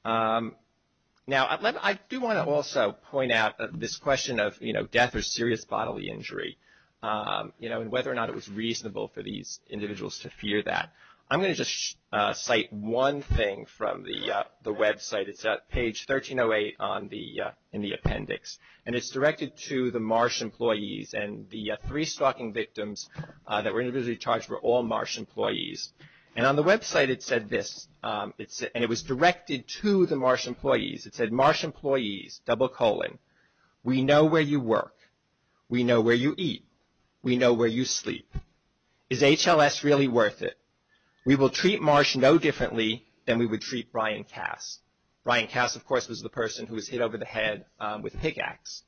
Now, I do want to also point out this question of, you know, death or serious bodily injury, you know, and whether or not it was reasonable for these individuals to fear that. I'm going to just cite one thing from the website. It's at page 1308 in the appendix, and it's directed to the Marsh employees and the three stalking victims that were individually charged were all Marsh employees. And on the website it said this, and it was directed to the Marsh employees. It said, Marsh employees, double colon, we know where you work. We know where you eat. We know where you sleep. Is HLS really worth it? We will treat Marsh no differently than we would treat Brian Kass. Brian Kass, of course, was the person who was hit over the head with a pickaxe.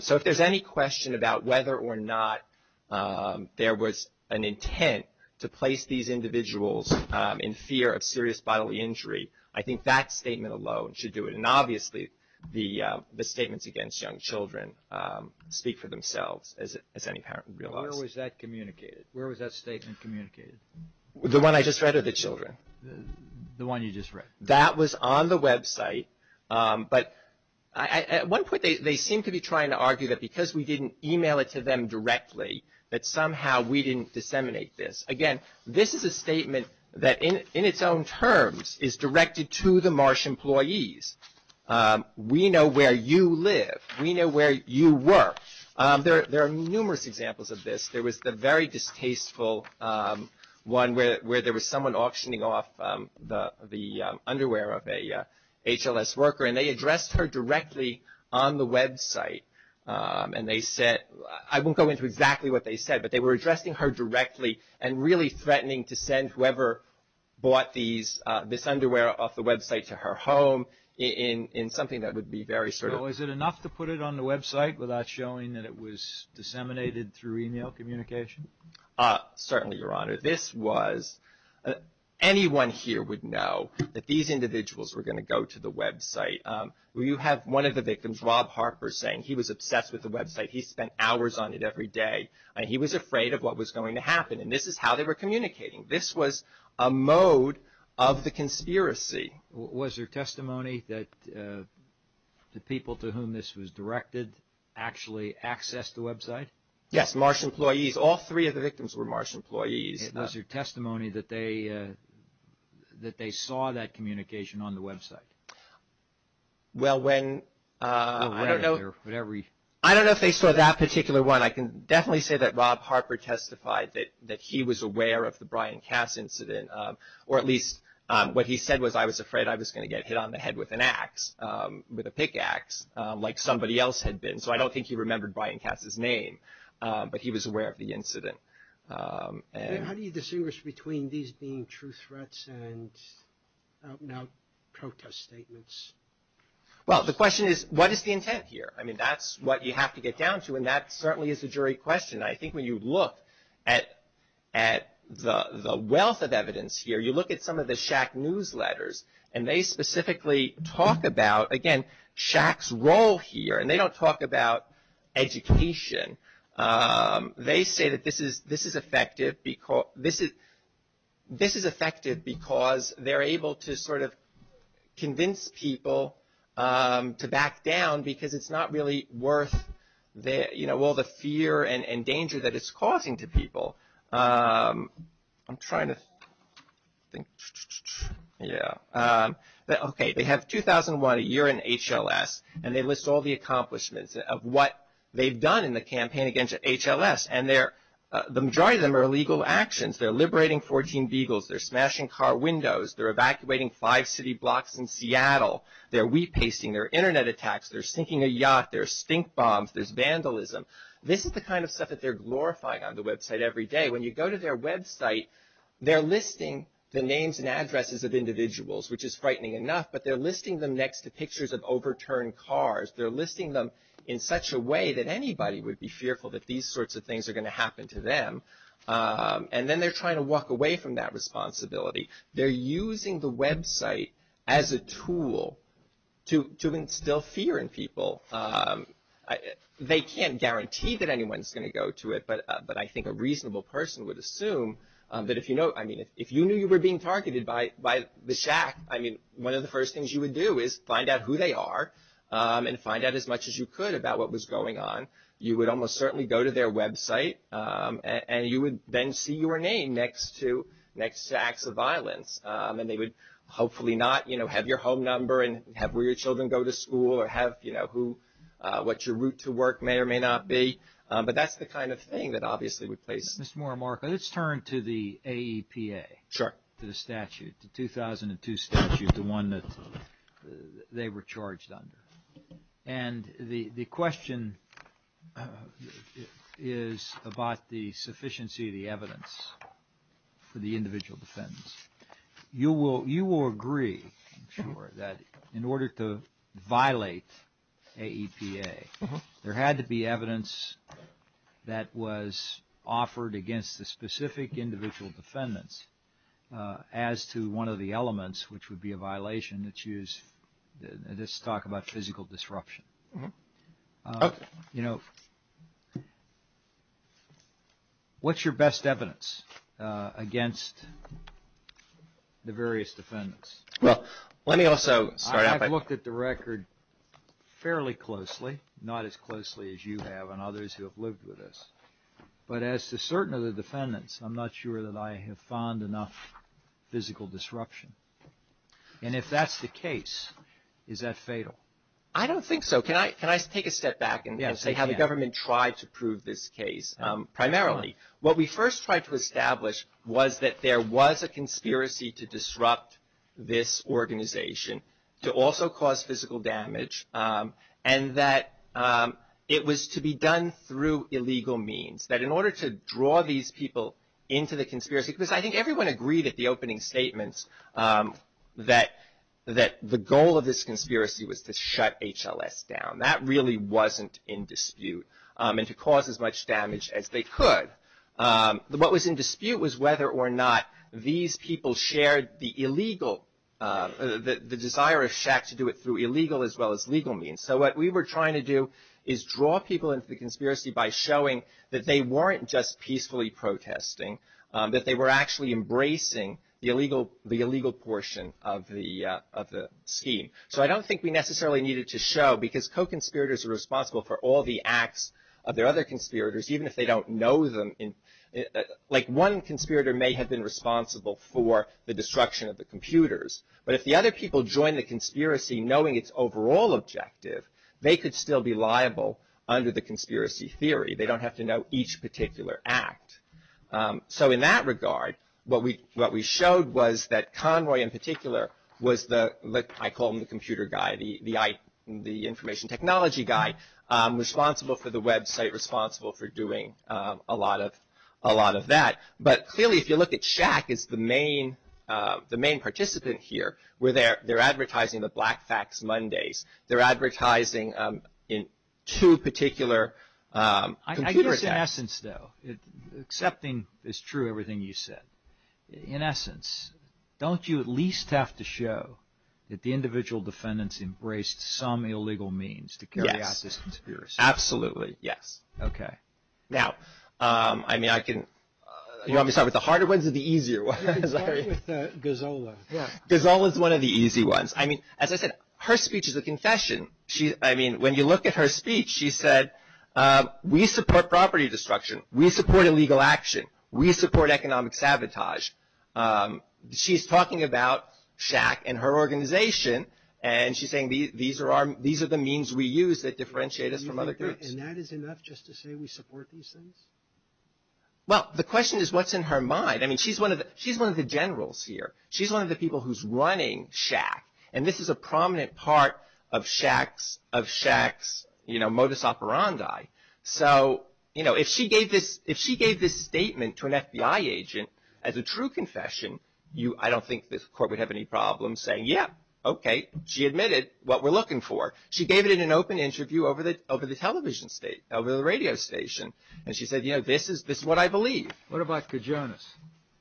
So if there's any question about whether or not there was an intent to place these individuals in fear of serious bodily injury, I think that statement alone should do it. And obviously the statements against young children speak for themselves as any parent would realize. Where was that communicated? Where was that statement communicated? The one I just read or the children? The one you just read. That was on the website. But at one point they seemed to be trying to argue that because we didn't e-mail it to them directly, that somehow we didn't disseminate this. Again, this is a statement that in its own terms is directed to the Marsh employees. We know where you live. We know where you work. There are numerous examples of this. There was the very distasteful one where there was someone auctioning off the underwear of a HLS worker, and they addressed her directly on the website. I won't go into exactly what they said, but they were addressing her directly and really threatening to send whoever bought this underwear off the website to her home in something that would be very certain. So was it enough to put it on the website without showing that it was disseminated through e-mail communication? Certainly, Your Honor. Anyone here would know that these individuals were going to go to the website. You have one of the victims, Rob Harper, saying he was obsessed with the website. He spent hours on it every day. He was afraid of what was going to happen, and this is how they were communicating. This was a mode of the conspiracy. Was there testimony that the people to whom this was directed actually accessed the website? Yes, Marsh employees. All three of the victims were Marsh employees. Was there testimony that they saw that communication on the website? Well, I don't know if they saw that particular one. I can definitely say that Rob Harper testified that he was aware of the Brian Cass incident, or at least what he said was, I was afraid I was going to get hit on the head with a pickaxe like somebody else had been. So I don't think he remembered Brian Cass' name, but he was aware of the incident. How do you distinguish between these being true threats and, I don't know, protest statements? Well, the question is, what is the intent here? I mean, that's what you have to get down to, and that certainly is a jury question. I think when you look at the wealth of evidence here, you look at some of the Shack newsletters, and they specifically talk about, again, Shack's role here, and they don't talk about education. They say that this is effective because they're able to sort of convince people to back down because it's not really worth all the fear and danger that it's causing to people. I'm trying to think. Yeah. Okay. They have 2001, a year in HLS, and they list all the accomplishments of what they've done in the campaign against HLS, and the majority of them are illegal actions. They're liberating 14 Beagles. They're smashing car windows. They're evacuating five city blocks in Seattle. They're repasting. There are Internet attacks. There's sinking a yacht. There are stink bombs. There's vandalism. This is the kind of stuff that they're glorifying on the website every day. When you go to their website, they're listing the names and addresses of individuals, which is frightening enough, but they're listing them next to pictures of overturned cars. They're listing them in such a way that anybody would be fearful that these sorts of things are going to happen to them, and then they're trying to walk away from that responsibility. They're using the website as a tool to instill fear in people. They can't guarantee that anyone's going to go to it, but I think a reasonable person would assume that if you knew you were being targeted by the shack, one of the first things you would do is find out who they are and find out as much as you could about what was going on. You would almost certainly go to their website, and you would then see your name next to acts of violence, and they would hopefully not have your home number and have where your children go to school or have what your route to work may or may not be. But that's the kind of thing that obviously would place them. Mr. Moore and Mark, let's turn to the AEPA, the statute, the 2002 statute, the one that they were charged under. And the question is about the sufficiency of the evidence for the individual defendants. You will agree, I'm sure, that in order to violate AEPA, there had to be evidence that was offered against the specific individual defendants as to one of the elements, which would be a violation that's used in this talk about physical disruption. You know, what's your best evidence against the various defendants? Well, let me also start off by... I've looked at the record fairly closely, not as closely as you have and others who have lived with us. But as to certain of the defendants, I'm not sure that I have found enough physical disruption. And if that's the case, is that fatal? I don't think so. Can I take a step back and say how the government tried to prove this case primarily? What we first tried to establish was that there was a conspiracy to disrupt this organization, to also cause physical damage, and that it was to be done through illegal means, that in order to draw these people into the conspiracy, because I think everyone agreed at the opening statements that the goal of this conspiracy was to shut HLS down. That really wasn't in dispute, and to cause as much damage as they could. What was in dispute was whether or not these people shared the illegal, the desire of Shaq to do it through illegal as well as legal means. So what we were trying to do is draw people into the conspiracy by showing that they weren't just peacefully protesting, that they were actually embracing the illegal portion of the scheme. So I don't think we necessarily needed to show, because co-conspirators are responsible for all the acts of their other conspirators, even if they don't know them. Like one conspirator may have been responsible for the destruction of the computers, but if the other people joined the conspiracy knowing its overall objective, they could still be liable under the conspiracy theory. They don't have to know each particular act. So in that regard, what we showed was that Conroy in particular was the, I call him the computer guy, the information technology guy, responsible for the website, responsible for doing a lot of that. But clearly if you look at Shaq, it's the main participant here. They're advertising the Black Facts Mondays. They're advertising in two particular computers. I guess in essence though, accepting is true everything you said. In essence, don't you at least have to show that the individual defendants embraced some illegal means to carry out this conspiracy? Absolutely, yes. Okay. Now, I mean I can, you want me to start with the harder ones or the easier ones? Let's start with Gazzola. Gazzola is one of the easy ones. I mean, as I said, her speech is a confession. I mean, when you look at her speech, she said, we support property destruction. We support illegal action. We support economic sabotage. She's talking about Shaq and her organization, and she's saying these are the means we use that differentiate us from other groups. And that is enough just to say we support these things? Well, the question is what's in her mind? I mean, she's one of the generals here. She's one of the people who's running Shaq, and this is a prominent part of Shaq's modus operandi. So, you know, if she gave this statement to an FBI agent as a true confession, I don't think this court would have any problems saying, yeah, okay. She admitted what we're looking for. She gave it in an open interview over the television station, over the radio station, and she said, you know, this is what I believe. What about Kajonas?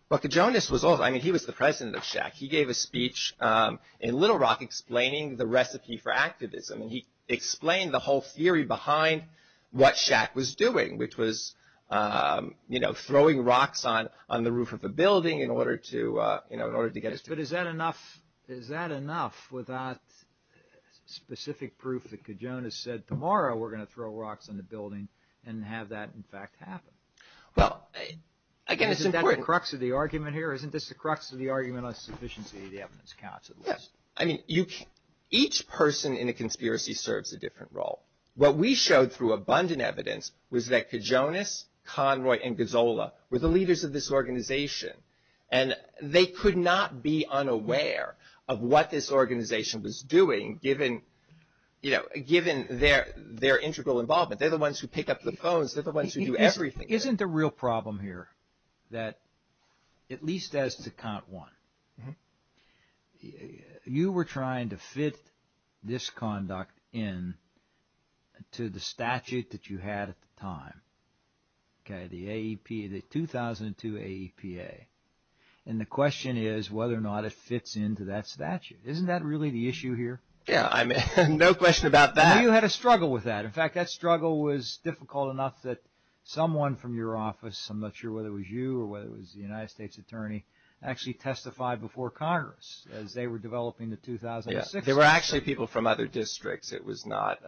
Well, Kajonas was also – I mean, he was the president of Shaq. He gave a speech in Little Rock explaining the recipe for activism, and he explained the whole theory behind what Shaq was doing, which was, you know, throwing rocks on the roof of the building in order to get – But is that enough without specific proof that Kajonas said, tomorrow we're going to throw rocks in the building and have that, in fact, happen? Well, again, it's important. Isn't that the crux of the argument here? Isn't this the crux of the argument on sufficiency of the evidence counts, at least? Yes. I mean, each person in a conspiracy serves a different role. What we showed through abundant evidence was that Kajonas, Conroy, and Gazzola were the leaders of this organization, and they could not be unaware of what this organization was doing given, you know, given their integral involvement. They're the ones who pick up the phones. They're the ones who do everything. Isn't the real problem here that, at least as to count one, you were trying to fit this conduct into the statute that you had at the time, the 2002 AEPA, and the question is whether or not it fits into that statute. Isn't that really the issue here? Yeah, I mean, no question about that. Well, you had a struggle with that. In fact, that struggle was difficult enough that someone from your office, I'm not sure whether it was you or whether it was the United States Attorney, actually testified before Congress as they were developing the 2006 statute. Yes, there were actually people from other districts. It was not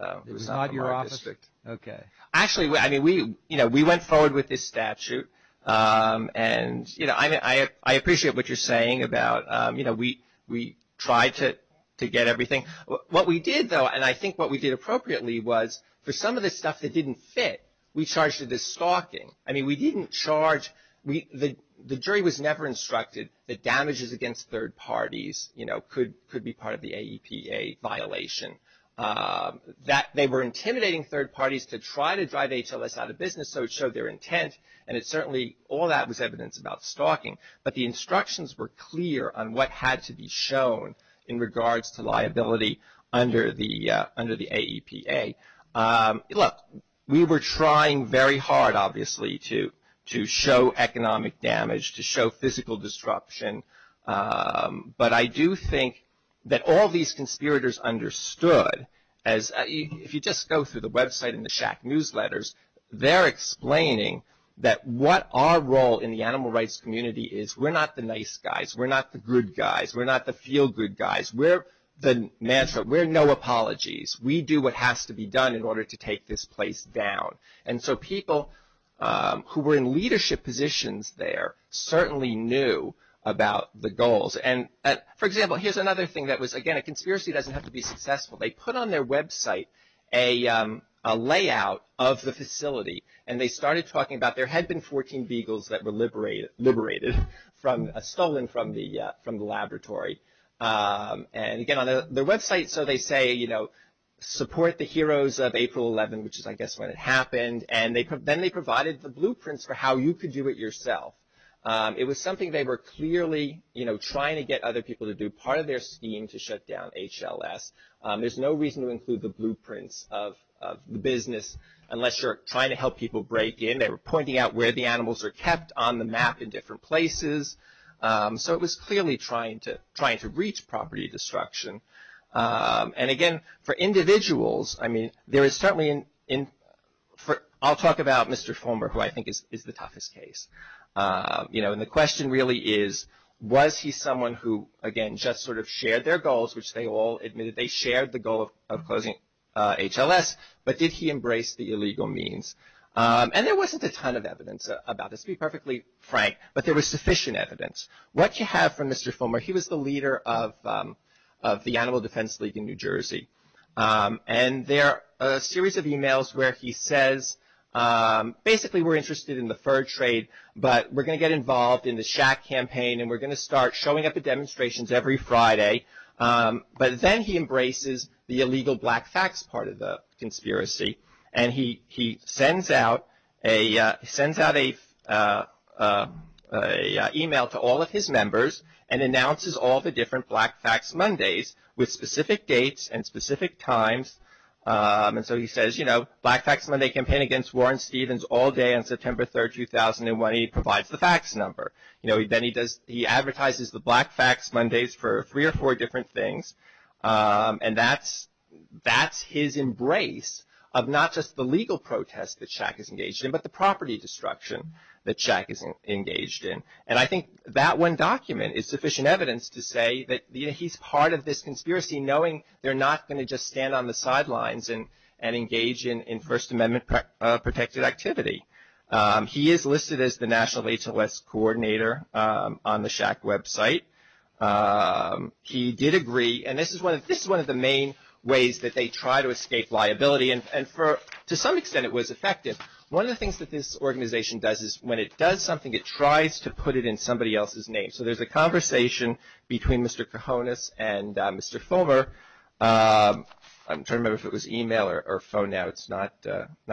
your office. Okay. Actually, I mean, you know, we went forward with this statute, and, you know, I appreciate what you're saying about, you know, we tried to get everything. What we did, though, and I think what we did appropriately, was for some of the stuff that didn't fit, we charged it as stalking. I mean, we didn't charge – the jury was never instructed that damages against third parties, you know, could be part of the AEPA violation. They were intimidating third parties to try to drive HLS out of business, so it showed their intent, and it certainly – all that was evidence about stalking. But the instructions were clear on what had to be shown in regards to liability under the AEPA. Look, we were trying very hard, obviously, to show economic damage, to show physical destruction, but I do think that all these conspirators understood, as – if you just go through the website and the SHAC newsletters, they're explaining that what our role in the animal rights community is, we're not the nice guys. We're not the good guys. We're not the feel-good guys. We're the – we're no apologies. We do what has to be done in order to take this place down. And so people who were in leadership positions there certainly knew about the goals. And, for example, here's another thing that was – again, a conspiracy doesn't have to be successful. They put on their website a layout of the facility, and they started talking about – there had been 14 beagles that were liberated from – stolen from the laboratory. And, again, on their website, so they say, you know, support the heroes of April 11, which is, I guess, when it happened. And then they provided the blueprints for how you could do it yourself. It was something they were clearly, you know, trying to get other people to do part of their scheme to shut down HLS. There's no reason to include the blueprints of the business unless you're trying to help people break in. They were pointing out where the animals were kept on the map in different places. So it was clearly trying to reach property destruction. And, again, for individuals, I mean, there is certainly – I'll talk about Mr. Former, who I think is the toughest case. You know, and the question really is, was he someone who, again, just sort of shared their goals, which they all admitted they shared the goal of closing HLS, but did he embrace the illegal means? And there wasn't a ton of evidence about this, to be perfectly frank, but there was sufficient evidence. What you have from Mr. Former, he was the leader of the Animal Defense League in New Jersey. And there are a series of emails where he says, basically, we're interested in the fur trade, but we're going to get involved in the shack campaign, and we're going to start showing up at demonstrations every Friday. But then he embraces the illegal black fax part of the conspiracy, and he sends out an email to all of his members and announces all the different black fax Mondays with specific dates and specific times. And so he says, you know, black fax Monday campaign against Warren Stevens all day on September 3, 2001. He provides the fax number. You know, then he advertises the black fax Mondays for three or four different things, and that's his embrace of not just the legal protest that Shaq is engaged in, but the property destruction that Shaq is engaged in. And I think that one document is sufficient evidence to say that, you know, he's part of this conspiracy knowing they're not going to just stand on the sidelines and engage in First Amendment-protected activity. He is listed as the national HLS coordinator on the Shaq website. He did agree, and this is one of the main ways that they try to escape liability, and to some extent it was effective. One of the things that this organization does is when it does something, it tries to put it in somebody else's name. So there's a conversation between Mr. Cojones and Mr. Fulmer. I'm trying to remember if it was email or phone now. It's not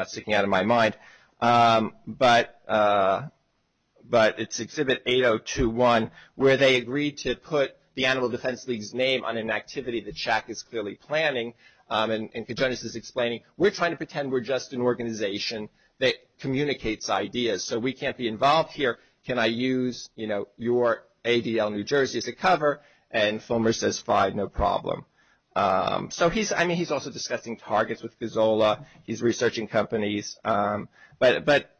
sticking out of my mind. But it's Exhibit 8021 where they agreed to put the Animal Defense League's name on an activity that Shaq is clearly planning. And Cojones is explaining, we're trying to pretend we're just an organization that communicates ideas. So we can't be involved here. Can I use, you know, your ADL New Jersey as a cover? And Fulmer says, fine, no problem. So, I mean, he's also discussing targets with Kozola. He's researching companies. But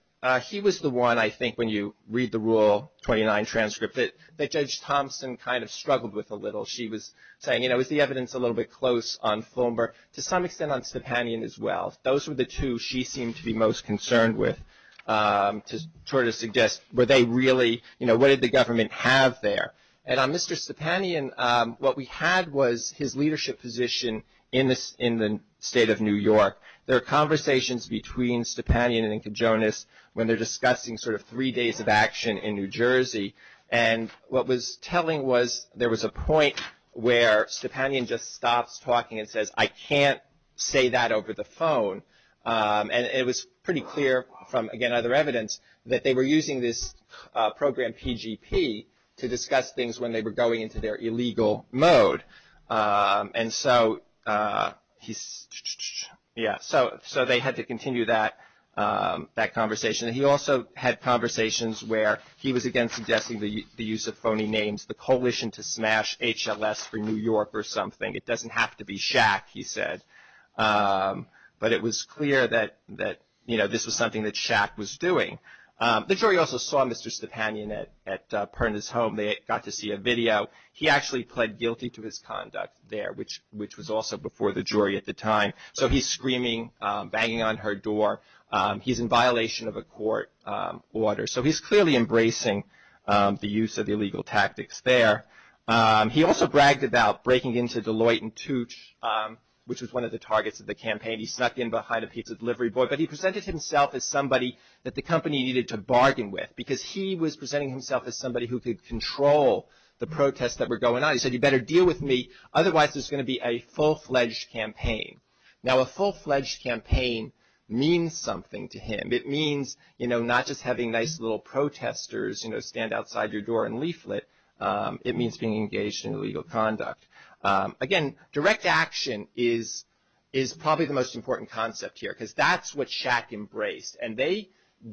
he was the one, I think, when you read the Rule 29 transcript, that Judge Thompson kind of struggled with a little. She was saying, you know, is the evidence a little bit close on Fulmer? To some extent on Stepanian as well. Those were the two she seemed to be most concerned with to sort of suggest were they really, you know, what did the government have there? And on Mr. Stepanian, what we had was his leadership position in the state of New York. There are conversations between Stepanian and Cojones when they're discussing sort of three days of action in New Jersey. And what was telling was there was a point where Stepanian just stops talking and says, I can't say that over the phone. And it was pretty clear from, again, other evidence that they were using this program PGP to discuss things when they were going into their illegal mode. And so, yeah, so they had to continue that conversation. He also had conversations where he was, again, suggesting the use of phony names, the coalition to smash HLS for New York or something. It doesn't have to be Shaq, he said. But it was clear that, you know, this was something that Shaq was doing. The jury also saw Mr. Stepanian at Perna's home. They got to see a video. He actually pled guilty to his conduct there, which was also before the jury at the time. So he's screaming, banging on her door. He's in violation of a court order. So he's clearly embracing the use of illegal tactics there. He also bragged about breaking into Deloitte & Touche, which was one of the targets of the campaign. He snuck in behind a pizza delivery boy. But he presented himself as somebody that the company needed to bargain with, because he was presenting himself as somebody who could control the protests that were going on. He said, you better deal with me, otherwise there's going to be a full-fledged campaign. Now, a full-fledged campaign means something to him. It means, you know, not just having nice little protesters, you know, stand outside your door and leaflet. It means being engaged in illegal conduct. Again, direct action is probably the most important concept here, because that's what Shaq embraced. And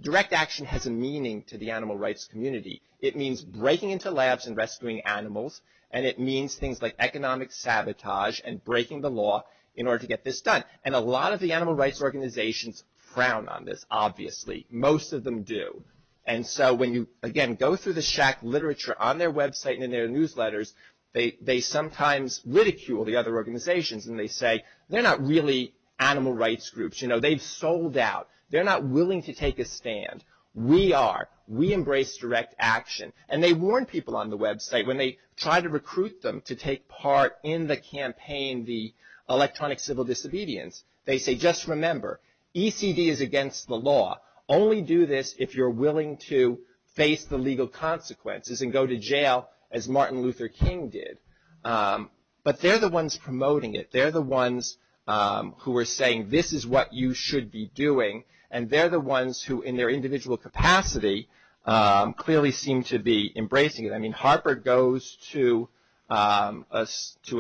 direct action has a meaning to the animal rights community. It means breaking into labs and rescuing animals, and it means things like economic sabotage and breaking the law in order to get this done. And a lot of the animal rights organizations crown on this, obviously. Most of them do. And so when you, again, go through the Shaq literature on their website and in their newsletters, they sometimes ridicule the other organizations, and they say, they're not really animal rights groups. You know, they've sold out. They're not willing to take a stand. We are. We embrace direct action. And they warn people on the website when they try to recruit them to take part in the campaign, the electronic civil disobedience, they say, just remember, ECD is against the law. Only do this if you're willing to face the legal consequences and go to jail as Martin Luther King did. But they're the ones promoting it. They're the ones who are saying this is what you should be doing, and they're the ones who, in their individual capacity, clearly seem to be embracing it. I mean, Harper goes to a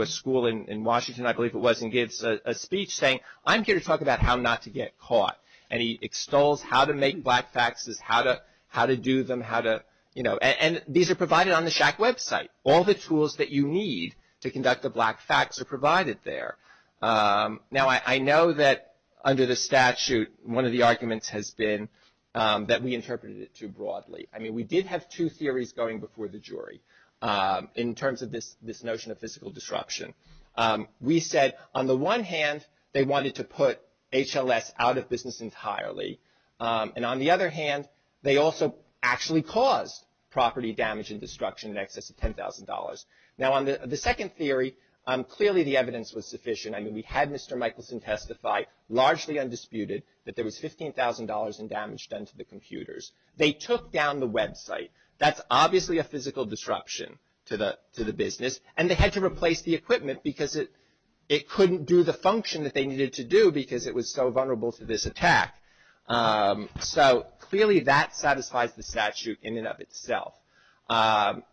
school in Washington, I believe it was, and gives a speech saying, I'm here to talk about how not to get caught. And he extols how to make black faxes, how to do them, how to, you know. And these are provided on the Shaq website. All the tools that you need to conduct a black fax are provided there. Now, I know that under the statute, one of the arguments has been that we interpreted it too broadly. I mean, we did have two theories going before the jury in terms of this notion of physical disruption. We said, on the one hand, they wanted to put HLS out of business entirely. And on the other hand, they also actually caused property damage and destruction in excess of $10,000. Now, on the second theory, clearly the evidence was sufficient. I mean, we had Mr. Michelson testify, largely undisputed, that there was $15,000 in damage done to the computers. They took down the website. That's obviously a physical disruption to the business, and they had to replace the equipment because it couldn't do the function that they needed to do because it was so vulnerable to this attack. So, clearly, that satisfies the statute in and of itself.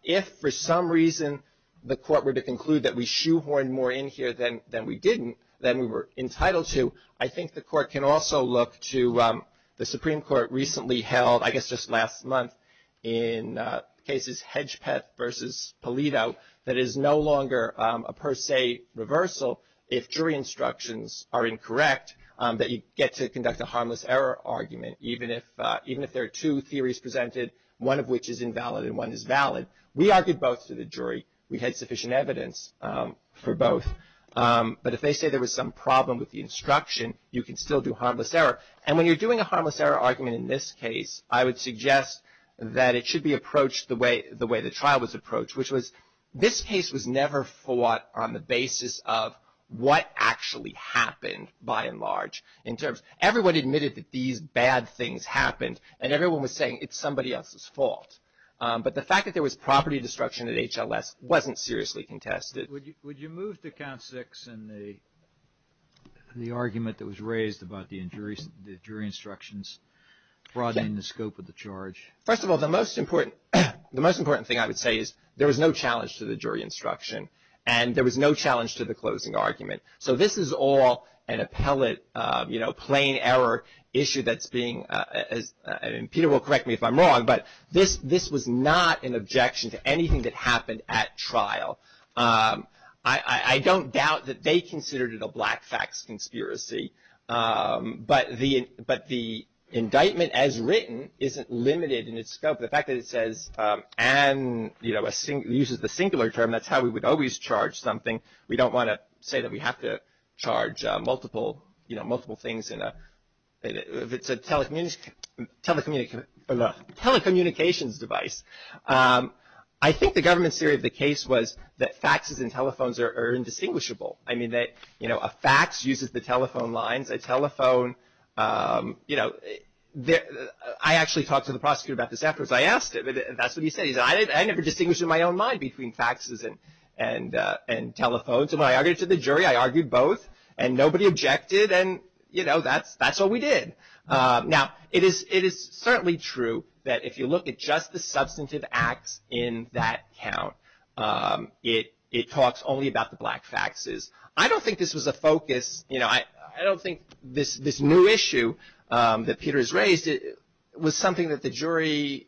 If, for some reason, the court were to conclude that we shoehorned more in here than we didn't, then we were entitled to. I think the court can also look to the Supreme Court recently held, I guess just last month, in cases Hedgepeth versus Polito that is no longer a per se reversal if jury instructions are incorrect, that you get to conduct a harmless error argument, even if there are two theories presented, one of which is invalid and one is valid. We argued both to the jury. We had sufficient evidence for both. But if they say there was some problem with the instruction, you can still do harmless error. And when you're doing a harmless error argument in this case, I would suggest that it should be approached the way the trial was approached, which was this case was never fought on the basis of what actually happened, by and large. Everyone admitted that these bad things happened, and everyone was saying it's somebody else's fault. But the fact that there was property destruction at HLS wasn't seriously contested. Would you move to count six in the argument that was raised about the jury instructions broadening the scope of the charge? First of all, the most important thing I would say is there was no challenge to the jury instruction, and there was no challenge to the closing argument. So this is all an appellate, you know, plain error issue that's being – and Peter will correct me if I'm wrong, but this was not an objection to anything that happened at trial. I don't doubt that they considered it a black fax conspiracy, but the indictment as written isn't limited in its scope. The fact that it says, and, you know, uses the singular term, that's how we would always charge something. We don't want to say that we have to charge multiple things in a telecommunications device. I think the government's theory of the case was that faxes and telephones are indistinguishable. I mean, you know, a fax uses the telephone line. A telephone, you know, I actually talked to the prosecutor about this afterwards. I asked him, and that's what he said. I never distinguished in my own mind between faxes and telephones. And when I argued to the jury, I argued both, and nobody objected, and, you know, that's what we did. Now, it is certainly true that if you look at just the substantive acts in that count, it talks only about the black faxes. I don't think this was a focus, you know, I don't think this new issue that Peter has raised was something that the jury,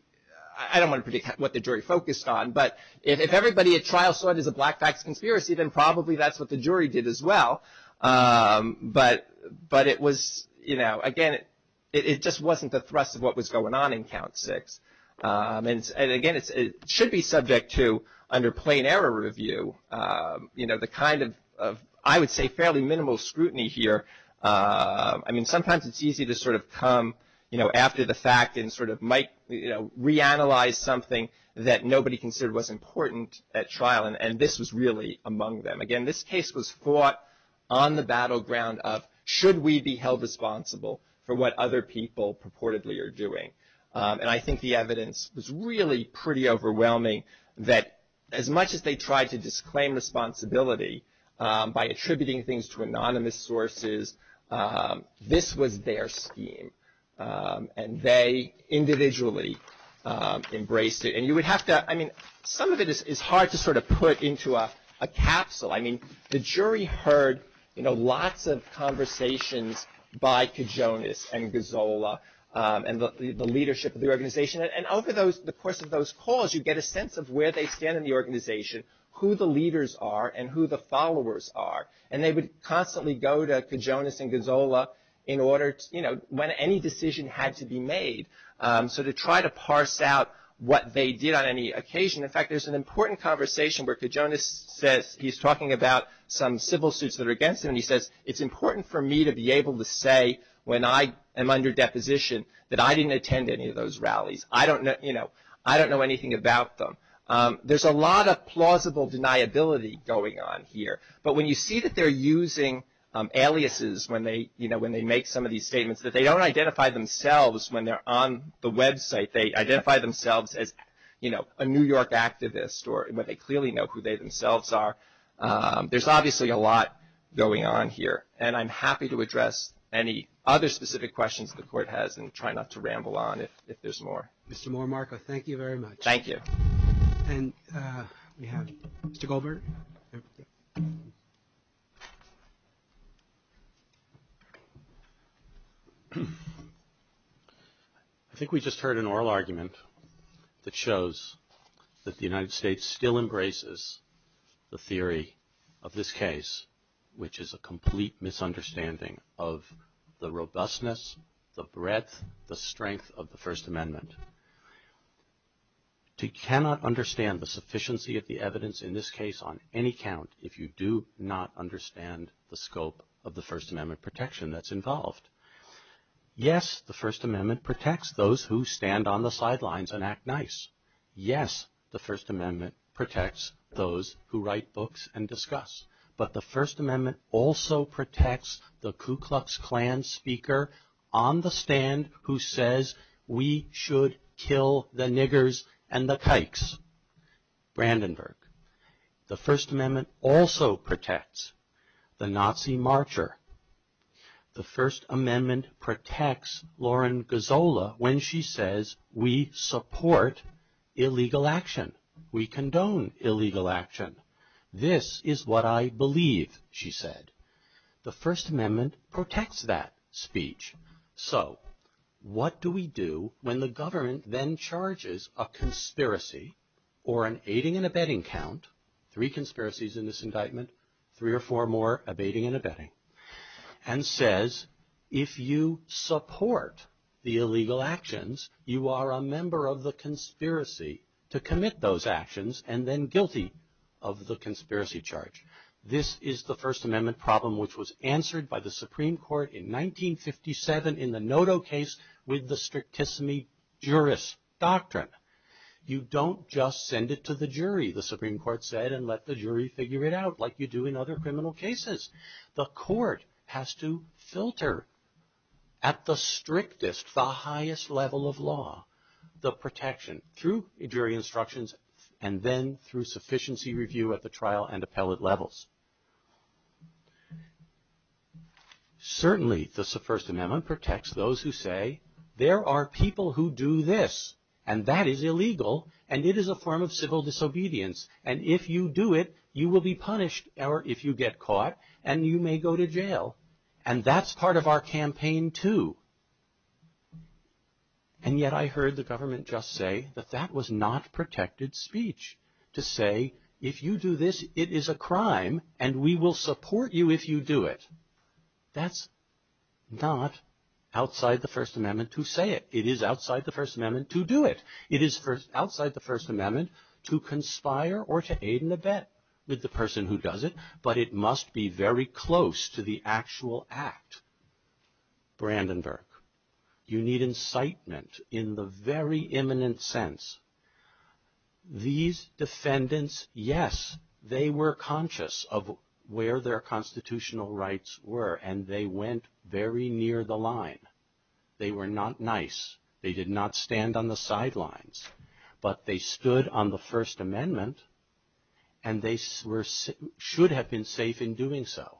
I don't want to predict what the jury focused on, but if everybody at trial saw it as a black fax conspiracy, then probably that's what the jury did as well. But it was, you know, again, it just wasn't the thrust of what was going on in count six. And, again, it should be subject to, under plain error review, you know, the kind of, I would say, fairly minimal scrutiny here. I mean, sometimes it's easy to sort of come, you know, after the fact and sort of might, you know, reanalyze something that nobody considered was important at trial, and this was really among them. Again, this case was fought on the battleground of should we be held responsible for what other people purportedly are doing. And I think the evidence was really pretty overwhelming that as much as they tried to disclaim responsibility by attributing things to anonymous sources, this was their scheme. And they individually embraced it. And you would have to, I mean, some of it is hard to sort of put into a capsule. I mean, the jury heard, you know, lots of conversations by Kijonas and Gazzola and the leadership of the organization. And over the course of those calls, you get a sense of where they stand in the organization, who the leaders are, and who the followers are. And they would constantly go to Kijonas and Gazzola in order to, you know, when any decision had to be made, so to try to parse out what they did on any occasion. In fact, there's an important conversation where Kijonas says he's talking about some civil suits that are against him, and he says it's important for me to be able to say when I am under deposition that I didn't attend any of those rallies. I don't know, you know, I don't know anything about them. There's a lot of plausible deniability going on here. But when you see that they're using aliases when they, you know, when they make some of these statements, they don't identify themselves when they're on the website. They identify themselves as, you know, a New York activist, or they clearly know who they themselves are. There's obviously a lot going on here. And I'm happy to address any other specific questions the court has and try not to ramble on if there's more. Mr. Moore-Marco, thank you very much. Thank you. And we have Mr. Goldberg. I think we just heard an oral argument that shows that the United States still embraces the theory of this case, which is a complete misunderstanding of the robustness, the breadth, the strength of the First Amendment. You cannot understand the sufficiency of the evidence in this case on any count if you do not understand the scope of the First Amendment protection that's involved. Yes, the First Amendment protects those who stand on the sidelines and act nice. Yes, the First Amendment protects those who write books and discuss. But the First Amendment also protects the Ku Klux Klan speaker on the stand who says, we should kill the niggers and the kikes, Brandenburg. The First Amendment also protects the Nazi marcher. The First Amendment protects Lauren Gazzola when she says, we support illegal action. We condone illegal action. This is what I believe, she said. The First Amendment protects that speech. So what do we do when the government then charges a conspiracy or an aiding and abetting count, three conspiracies in this indictment, three or four more abetting and abetting, and says if you support the illegal actions, you are a member of the conspiracy to commit those actions and then guilty of the conspiracy charge. This is the First Amendment problem which was answered by the Supreme Court in 1957 in the Noto case with the strictest jurist doctrine. You don't just send it to the jury, the Supreme Court said, and let the jury figure it out like you do in other criminal cases. The court has to filter at the strictest, the highest level of law, the protection, through jury instructions and then through sufficiency review at the trial and appellate levels. Certainly the First Amendment protects those who say there are people who do this, and that is illegal, and it is a form of civil disobedience, and if you do it, you will be punished if you get caught and you may go to jail, and that's part of our campaign too. And yet I heard the government just say that that was not protected speech to say if you do this, it is a crime and we will support you if you do it. That's not outside the First Amendment to say it. It is outside the First Amendment to do it. It is outside the First Amendment to conspire or to aid and abet with the person who does it, but it must be very close to the actual act. Brandenburg, you need incitement in the very imminent sense. These defendants, yes, they were conscious of where their constitutional rights were, and they went very near the line. They were not nice. They did not stand on the sidelines, but they stood on the First Amendment, and they should have been safe in doing so.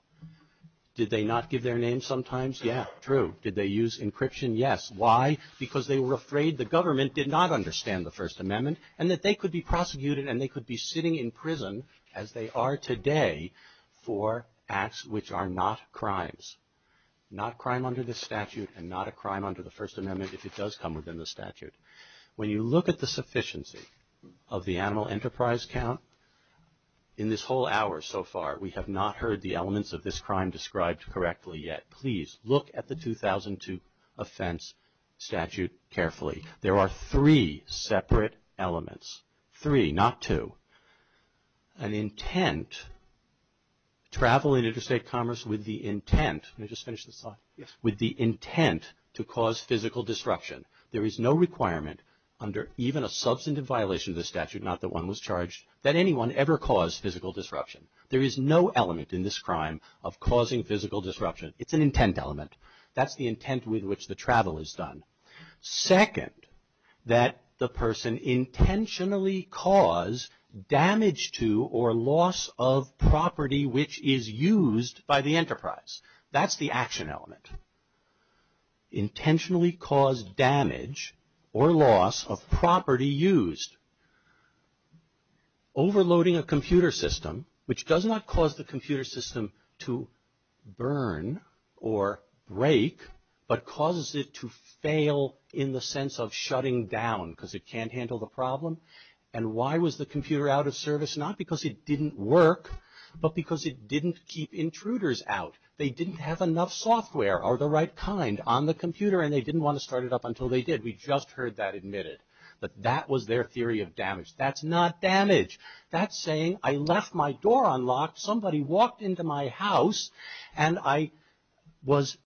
Did they not give their name sometimes? Yeah, true. Did they use encryption? Yes. Why? Because they were afraid the government did not understand the First Amendment and that they could be prosecuted and they could be sitting in prison, as they are today, for acts which are not crimes, not crime under the statute and not a crime under the First Amendment if it does come within the statute. When you look at the sufficiency of the animal enterprise count in this whole hour so far, we have not heard the elements of this crime described correctly yet. Please look at the 2002 offense statute carefully. There are three separate elements. Three, not two. An intent, travel in interstate commerce with the intent, let me just finish this thought, with the intent to cause physical disruption. There is no requirement under even a substantive violation of the statute, not that one was charged, that anyone ever cause physical disruption. There is no element in this crime of causing physical disruption. It's an intent element. That's the intent with which the travel is done. Second, that the person intentionally cause damage to or loss of property which is used by the enterprise. That's the action element. Intentionally cause damage or loss of property used. Overloading a computer system, which does not cause the computer system to burn or break, but causes it to fail in the sense of shutting down because it can't handle the problem. And why was the computer out of service? Not because it didn't work, but because it didn't keep intruders out. They didn't have enough software of the right kind on the computer, and they didn't want to start it up until they did. We just heard that admitted. But that was their theory of damage. That's not damage. That's saying I left my door unlocked, somebody walked into my house, and I was out.